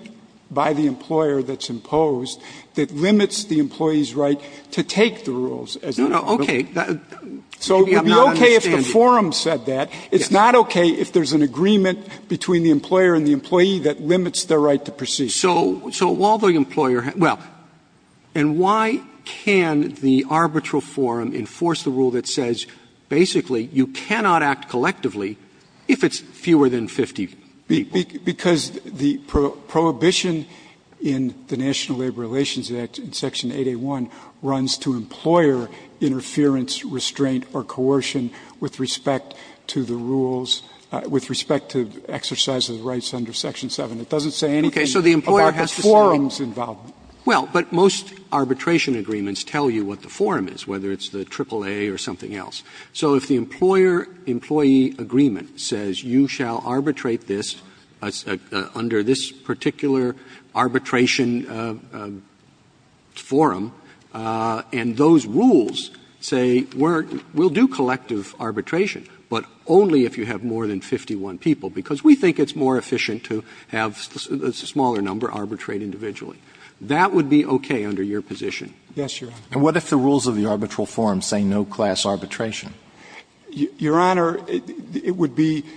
by the employer that's imposed that limits the employee's right to take the rules as they find them. No, no, okay. So it would be okay if the forum said that. It's not okay if there's an agreement between the employer and the employee that limits their right to proceed. So while the employer — well, and why can the arbitral forum enforce the rule that says, basically, you cannot act collectively if it's fewer than 50 people? Because the prohibition in the National Labor Relations Act, in Section 8A1, runs to employer interference, restraint, or coercion with respect to the rules, with respect to exercise of the rights under Section 7. It doesn't say anything about the forum's involvement. Okay. So the employer has to say, well, but most arbitration agreements tell you what the forum is, whether it's the AAA or something else. So if the employer-employee agreement says you shall arbitrate this under this particular arbitration forum, and those rules say we'll do collective arbitration, but only if you have more than 51 people, because we think it's more efficient to have a smaller number arbitrate individually, that would be okay under your position. Yes, Your Honor. And what if the rules of the arbitral forum say no class arbitration? Your Honor, it would be —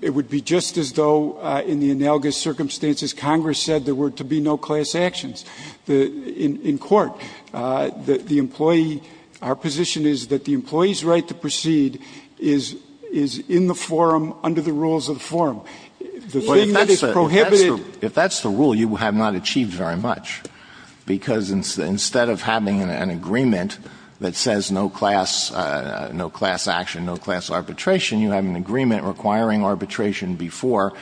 it would be just as though, in the analogous circumstances, Congress said there were to be no class actions in court. The employee — our position is that the employee's right to proceed is in the forum under the rules of the forum. The thing that is prohibited — Well, if that's the — if that's the rule, you have not achieved very much, because instead of having an agreement that says no class — no class action, no class arbitration, you have an agreement requiring arbitration before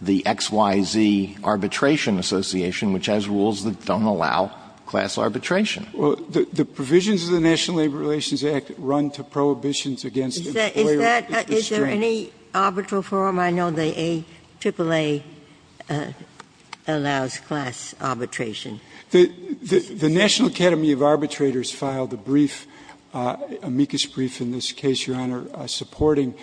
the X, Y, Z arbitration association, which has rules that don't allow class arbitration. Well, the provisions of the National Labor Relations Act run to prohibitions against employers. Is that — is there any arbitral forum? I know the AAA allows class arbitration. The National Academy of Arbitrators filed a brief, amicus brief in this case, Your Honor, supporting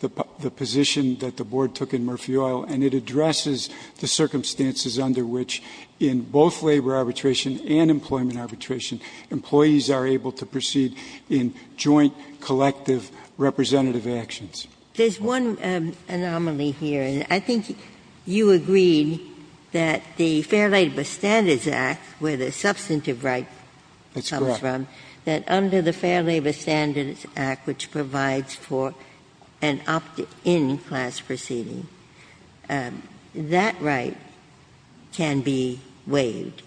the position that the Board took in Murphy Oil, and it addresses the circumstances under which, in both labor arbitration and employment arbitration, employees are able to proceed in joint, collective, representative actions. There's one anomaly here, and I think you agreed that the Fair Labor Standards Act, where the substantive right comes from, that under the Fair Labor Standards Act, which provides for an opt-in class proceeding, that right can be waived.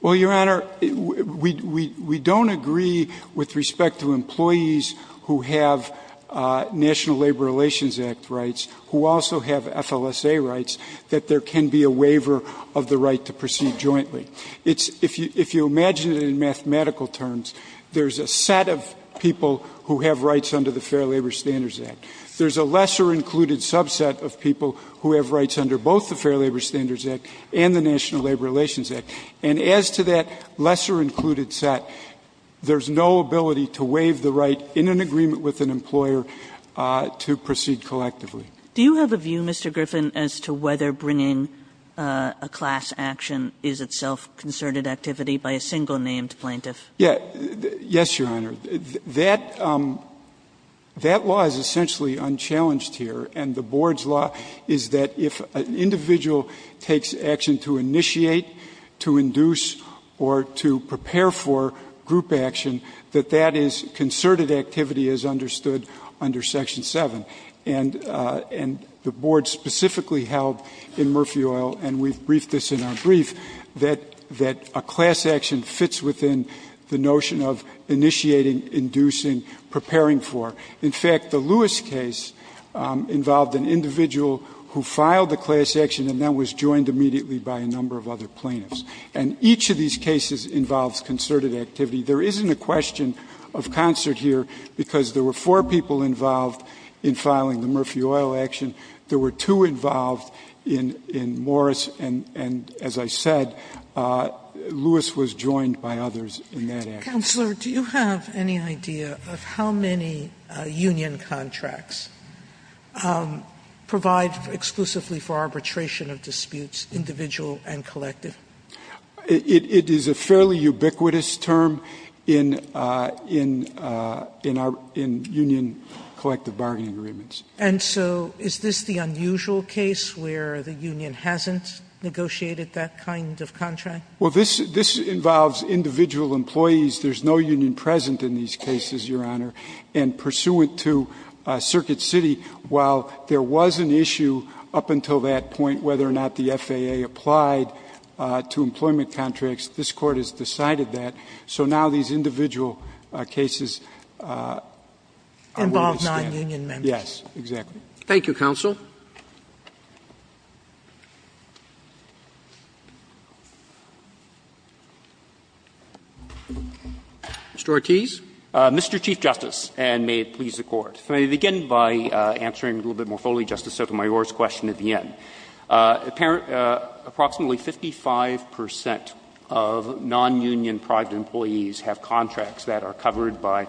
Well, Your Honor, we don't agree with respect to employees who have National Labor Relations Act rights, who also have FLSA rights, that there can be a waiver of the right to proceed jointly. It's — if you imagine it in mathematical terms, there's a set of people who have rights under the Fair Labor Standards Act. There's a lesser-included subset of people who have rights under both the Fair Labor Standards Act and the National Labor Relations Act. And as to that lesser-included set, there's no ability to waive the right in an employer to proceed collectively. Do you have a view, Mr. Griffin, as to whether bringing a class action is itself concerted activity by a single-named plaintiff? Yes, Your Honor. That law is essentially unchallenged here, and the board's law is that if an individual takes action to initiate, to induce, or to prepare for group action, that that is concerted activity as understood under Section 7. And the board specifically held in Murphy Oil, and we've briefed this in our brief, that a class action fits within the notion of initiating, inducing, preparing for. In fact, the Lewis case involved an individual who filed the class action and then was joined immediately by a number of other plaintiffs. And each of these cases involves concerted activity. There isn't a question of concert here because there were four people involved in filing the Murphy Oil action. There were two involved in Morris, and as I said, Lewis was joined by others in that action. Counselor, do you have any idea of how many union contracts provide exclusively for arbitration of disputes, individual and collective? It is a fairly ubiquitous term in union collective bargaining agreements. And so is this the unusual case where the union hasn't negotiated that kind of contract? Well, this involves individual employees. There's no union present in these cases, Your Honor. And pursuant to Circuit City, while there was an issue up until that point whether or not the FAA applied to employment contracts, this Court has decided that. So now these individual cases are willing to stand. Involve non-union members. Yes, exactly. Thank you, counsel. Mr. Ortiz. Mr. Chief Justice, and may it please the Court. If I may begin by answering a little bit more fully, Justice Sotomayor's question at the end. Approximately 55 percent of non-union private employees have contracts that are covered by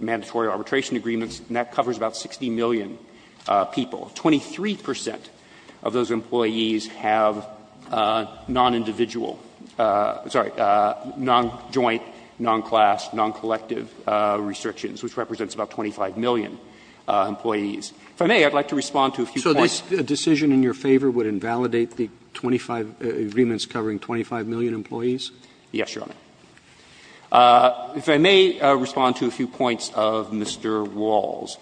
mandatory arbitration agreements, and that covers about 60 million people. Twenty-three percent of those employees have non-individual, sorry, non-joint, non-class, non-collective restrictions, which represents about 25 million employees. If I may, I would like to respond to a few points. If a decision in your favor would invalidate the 25 agreements covering 25 million employees? Yes, Your Honor. If I may respond to a few points of Mr. Wall's.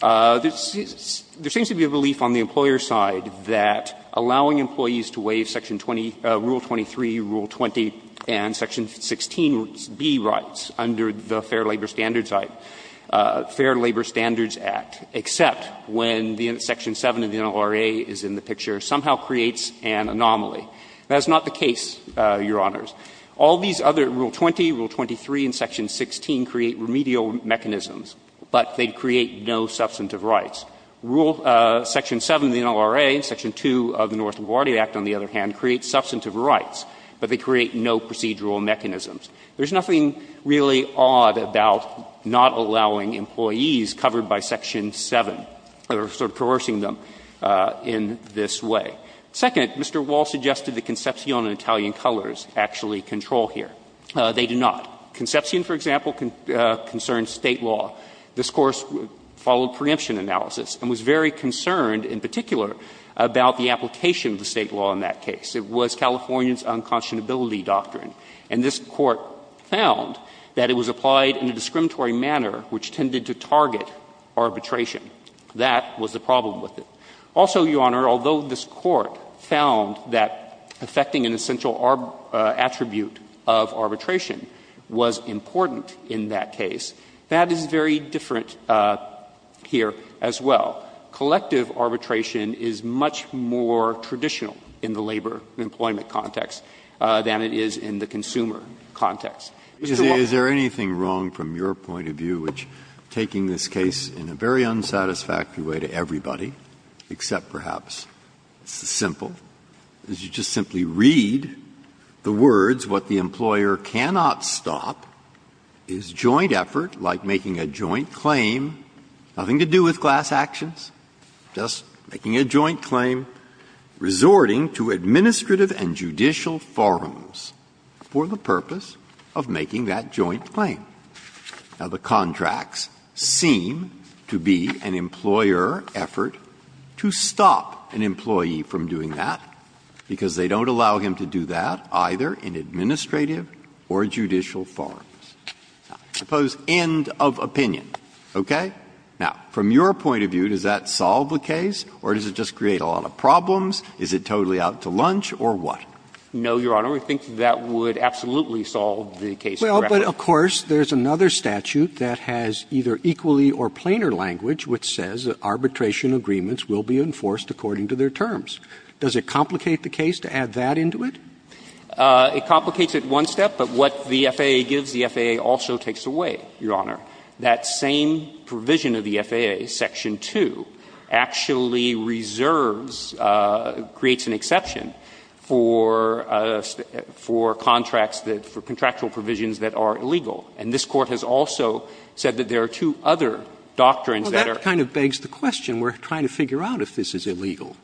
There seems to be a belief on the employer's side that allowing employees to waive Section 20, Rule 23, Rule 20, and Section 16B rights under the Fair Labor Standards Act, Fair Labor Standards Act, except when the Section 7 of the NLRA is in the picture, somehow creates an anomaly. That is not the case, Your Honors. All these other Rule 20, Rule 23, and Section 16 create remedial mechanisms, but they create no substantive rights. Rule Section 7 of the NLRA, Section 2 of the North LaGuardia Act, on the other hand, creates substantive rights, but they create no procedural mechanisms. There's nothing really odd about not allowing employees covered by Section 7, or sort of coercing them in this way. Second, Mr. Wall suggested that Concepcion and Italian Colors actually control here. They do not. Concepcion, for example, concerns State law. This Court followed preemption analysis and was very concerned in particular about the application of the State law in that case. It was California's unconscionability doctrine. And this Court found that it was applied in a discriminatory manner which tended to target arbitration. That was the problem with it. Also, Your Honor, although this Court found that affecting an essential attribute of arbitration was important in that case, that is very different here as well. Collective arbitration is much more traditional in the labor employment context than it is in the consumer context. Mr. Wall. Breyer. Breyer. Is there anything wrong from your point of view, which taking this case in a very unsatisfactory way to everybody, except perhaps it's simple, is you just simply read the words, what the employer cannot stop is joint effort, like making a joint claim, nothing to do with class actions, just making a joint claim, resorting to administrative and judicial forums for the purpose of making that joint claim. Now, the contracts seem to be an employer effort to stop an employee from doing that, because they don't allow him to do that, either in administrative or judicial forums. Now, I suppose end of opinion, okay? Now, from your point of view, does that solve the case or does it just create a lot of problems? Is it totally out to lunch or what? No, Your Honor. I think that would absolutely solve the case correctly. Well, but of course, there's another statute that has either equally or planar language which says that arbitration agreements will be enforced according to their terms. Does it complicate the case to add that into it? It complicates it one step, but what the FAA gives, the FAA also takes away, Your Honor. That same provision of the FAA, section 2, actually reserves, creates an exception for contracts that, for contractual provisions that are illegal. And this Court has also said that there are two other doctrines that are legal. Well, that kind of begs the question. We're trying to figure out if this is illegal.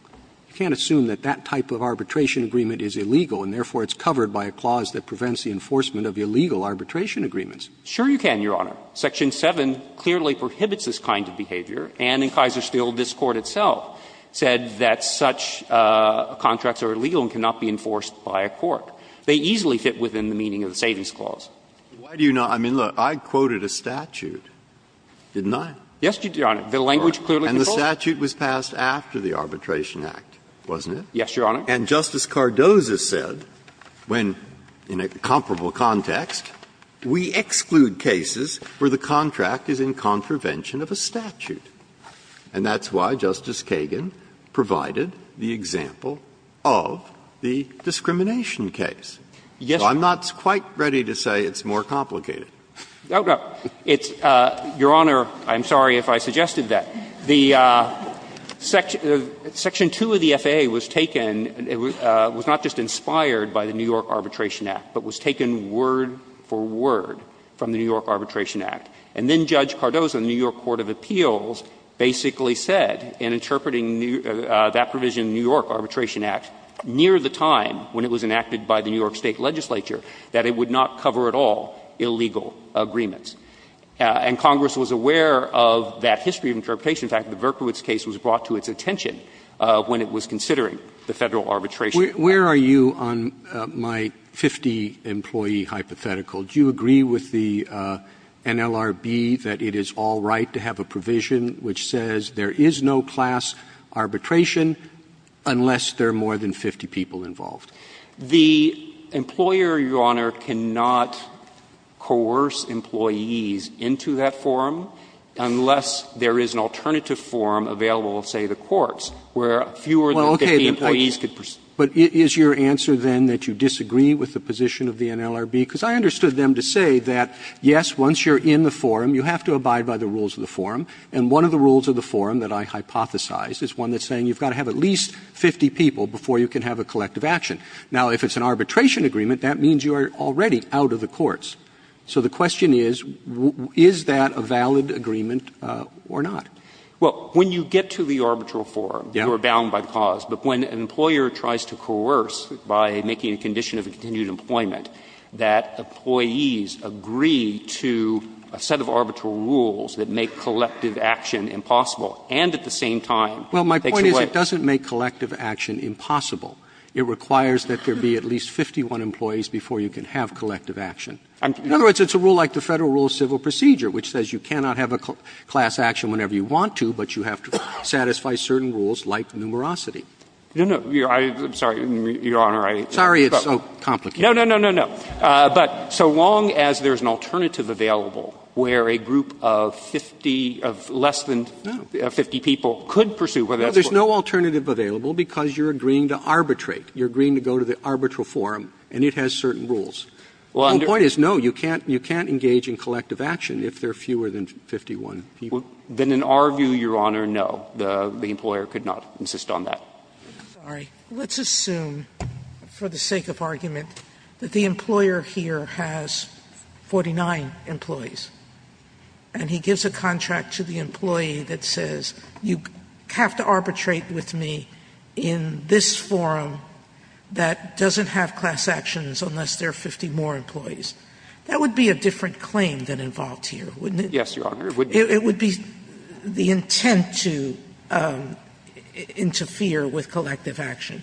You can't assume that that type of arbitration agreement is illegal, and therefore it's covered by a clause that prevents the enforcement of illegal arbitration agreements. Sure you can, Your Honor. Section 7 clearly prohibits this kind of behavior, and in Kaiserstein, this Court itself said that such contracts are illegal and cannot be enforced by a court. They easily fit within the meaning of the Savings Clause. Breyer, I mean, look, I quoted a statute, didn't I? Yes, Your Honor. The language clearly controls it. And the statute was passed after the Arbitration Act, wasn't it? Yes, Your Honor. And Justice Cardozo said, when, in a comparable context, we exclude cases where the contract is in contravention of a statute. And that's why Justice Kagan provided the example of the discrimination case. Yes. So I'm not quite ready to say it's more complicated. No, no. It's Your Honor, I'm sorry if I suggested that. The Section 2 of the FAA was taken, was not just inspired by the New York Arbitration Act, but was taken word for word from the New York Arbitration Act. And then Judge Cardozo in the New York Court of Appeals basically said, in interpreting that provision in the New York Arbitration Act, near the time when it was enacted by the New York State legislature, that it would not cover at all illegal agreements. And Congress was aware of that history of interpretation. In fact, the Verkowitz case was brought to its attention when it was considering the Federal arbitration. Where are you on my 50-employee hypothetical? Do you agree with the NLRB that it is all right to have a provision which says there is no class arbitration unless there are more than 50 people involved? The employer, Your Honor, cannot coerce employees into that forum unless there is an alternative forum available of, say, the courts, where fewer than 50 employees could proceed. Roberts, but is your answer, then, that you disagree with the position of the NLRB? Because I understood them to say that, yes, once you're in the forum, you have to abide by the rules of the forum. And one of the rules of the forum that I hypothesized is one that's saying you've got to have at least 50 people before you can have a collective action. Now, if it's an arbitration agreement, that means you are already out of the courts. So the question is, is that a valid agreement or not? Well, when you get to the arbitral forum, you are bound by the cause. But when an employer tries to coerce, by making a condition of continued employment, that employees agree to a set of arbitral rules that make collective action impossible and at the same time takes away the rights of the employees, that's what I'm trying to say is that there be at least 51 employees before you can have collective action. In other words, it's a rule like the Federal Rule of Civil Procedure, which says you cannot have a class action whenever you want to, but you have to satisfy certain rules, like numerosity. No, no. I'm sorry, Your Honor. Sorry, it's so complicated. No, no, no, no, no. But so long as there's an alternative available where a group of 50 of less than 50 people could pursue whether that's what's going to happen. No, there's no alternative available because you're agreeing to arbitrate. You're agreeing to go to the arbitral forum, and it has certain rules. The point is, no, you can't engage in collective action if there are fewer than 51 people. Then in our view, Your Honor, no, the employer could not insist on that. Sotomayor, let's assume for the sake of argument that the employer here has 49 employees. And he gives a contract to the employee that says you have to arbitrate with me in this forum that doesn't have class actions unless there are 50 more employees. That would be a different claim than involved here, wouldn't it? Yes, Your Honor, it would be. It would be the intent to interfere with collective action.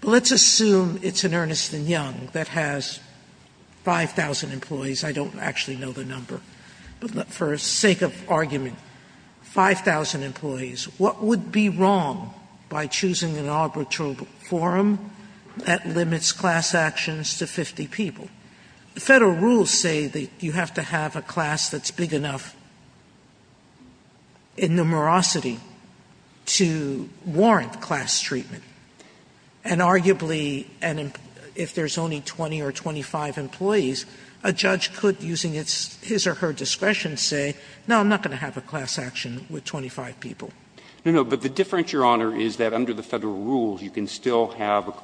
But let's assume it's an Ernst & Young that has 5,000 employees. I don't actually know the number. But for the sake of argument, 5,000 employees, what would be wrong by choosing an arbitral forum that limits class actions to 50 people? Federal rules say that you have to have a class that's big enough in numerosity to warrant class treatment. And arguably, if there's only 20 or 25 employees, a judge could, using his or her discretion, say, no, I'm not going to have a class action with 25 people. No, no. But the difference, Your Honor, is that under the Federal rules, you can still have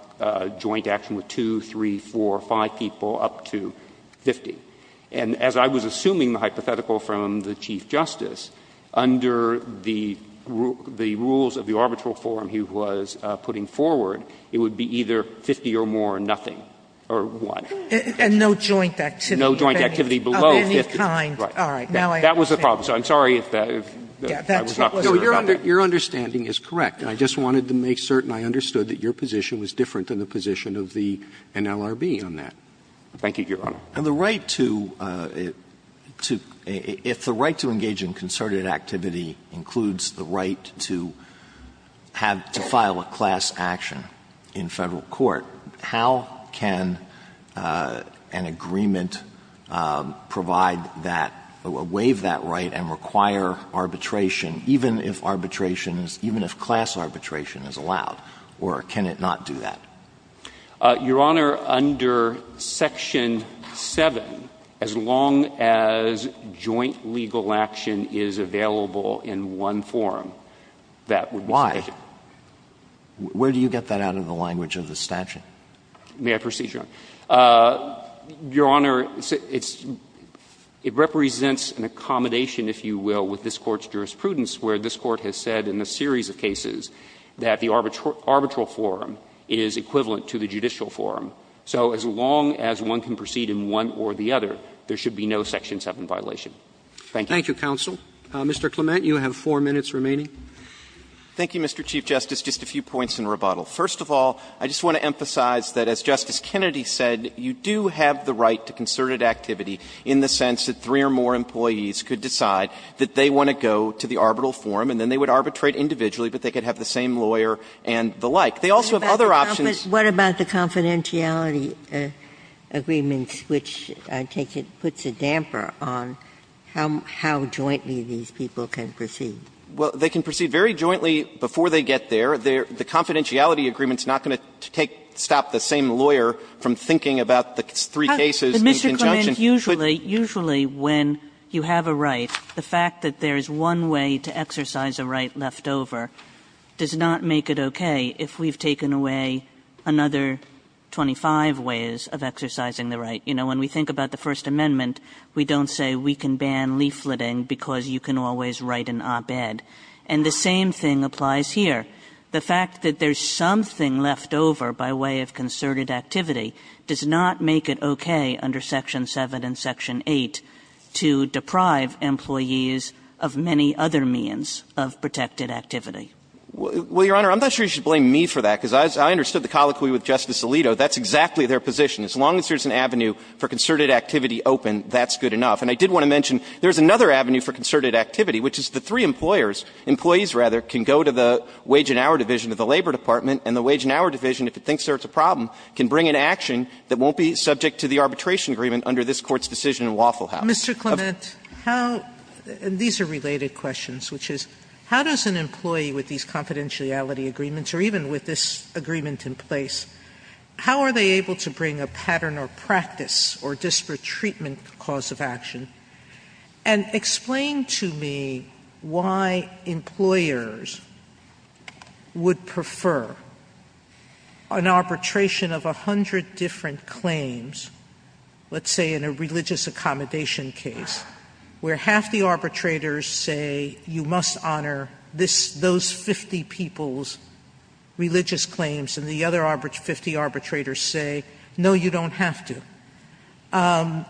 joint action with 2, 3, 4, 5 people up to 50. And as I was assuming the hypothetical from the Chief Justice, under the rules of the arbitral forum he was putting forward, it would be either 50 or more or nothing or 1. And no joint activity of any kind. No joint activity below 50. All right. That was the problem. So I'm sorry if I was not clear about that. So your understanding is correct. And I just wanted to make certain I understood that your position was different than the position of the NLRB on that. Thank you, Your Honor. And the right to — if the right to engage in concerted activity includes the right to have — to file a class action in Federal court, how can an agreement provide that — waive that right and require arbitration, even if arbitration is — even if class arbitration is allowed? Or can it not do that? Your Honor, under Section 7, as long as joint legal action is available in one forum, that would be — Why? Where do you get that out of the language of the statute? May I proceed, Your Honor? Your Honor, it's — it represents an accommodation, if you will, with this Court's jurisprudence where this Court has said in a series of cases that the arbitral forum is equivalent to the judicial forum. So as long as one can proceed in one or the other, there should be no Section 7 violation. Thank you. Thank you, counsel. Mr. Clement, you have 4 minutes remaining. Thank you, Mr. Chief Justice. Just a few points in rebuttal. First of all, I just want to emphasize that, as Justice Kennedy said, you do have the right to concerted activity in the sense that three or more employees could decide that they want to go to the arbitral forum, and then they would arbitrate individually, but they could have the same lawyer and the like. They also have other options. What about the confidentiality agreements, which I take it puts a damper on how jointly these people can proceed? Well, they can proceed very jointly before they get there. The confidentiality agreement is not going to take stop the same lawyer from thinking about the three cases in conjunction. But, Mr. Clement, usually, usually when you have a right, the fact that there is one way to exercise a right left over does not make it okay if we've taken away another 25 ways of exercising the right. You know, when we think about the First Amendment, we don't say we can ban leafleting because you can always write an op-ed. And the same thing applies here. The fact that there's something left over by way of concerted activity does not make it okay under Section 7 and Section 8 to deprive employees of many other means of protected activity. Well, Your Honor, I'm not sure you should blame me for that, because I understood the colloquy with Justice Alito. That's exactly their position. As long as there's an avenue for concerted activity open, that's good enough. And I did want to mention there's another avenue for concerted activity, which is the three employers, employees, rather, can go to the wage and hour division of the Labor Department, and the wage and hour division, if it thinks there's a problem, can bring an action that won't be subject to the arbitration agreement under this Court's decision in Waffle House. Sotomayor, these are related questions, which is, how does an employee with these confidentiality agreements, or even with this agreement in place, how are they able to bring a pattern or practice or disparate treatment cause of action? And explain to me why employers would prefer an arbitration of 100 different claims, let's say in a religious accommodation case, where half the arbitrators say, you must honor those 50 people's religious claims, and the other 50 arbitrators say, no, you don't have to. How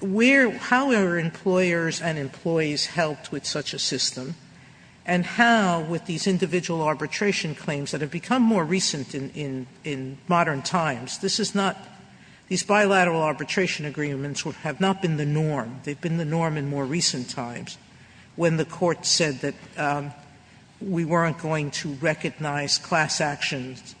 are employers and employees helped with such a system? And how, with these individual arbitration claims that have become more recent in modern times, this is not, these bilateral arbitration agreements have not been the norm, they've been the norm in more recent times, when the Court said that we weren't going to recognize class actions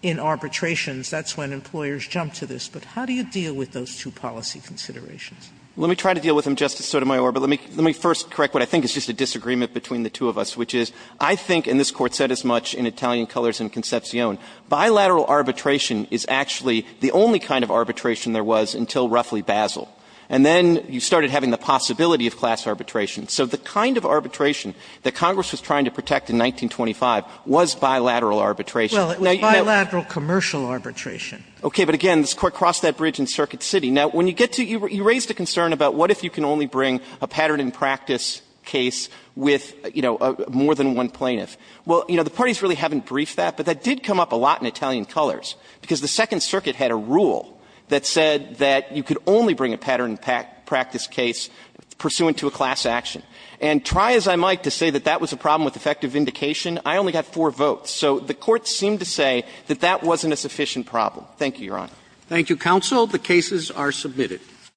in arbitrations, that's when employers jumped to the conclusion that class arbitration was the norm. And I think the question is, how do you deal with this, but how do you deal with those two policy considerations? Let me try to deal with them, Justice Sotomayor. But let me first correct what I think is just a disagreement between the two of us, which is, I think, and this Court said as much in Italian Colors and Concepcion, bilateral arbitration is actually the only kind of arbitration there was until roughly the time of Basel. And then you started having the possibility of class arbitration. So the kind of arbitration that Congress was trying to protect in 1925 was bilateral arbitration. Sotomayor Well, it was bilateral commercial arbitration. Clement Okay, but again, this Court crossed that bridge in Circuit City. Now, when you get to, you raised a concern about what if you can only bring a pattern in practice case with, you know, more than one plaintiff. Well, you know, the parties really haven't briefed that, but that did come up a lot in Italian Colors, because the Second Circuit had a rule that said that you could only bring a pattern in practice case pursuant to a class action. And try as I might to say that that was a problem with effective vindication, I only got four votes. So the Court seemed to say that that wasn't a sufficient problem. Thank you, Your Honor. Roberts. Thank you, counsel. The cases are submitted.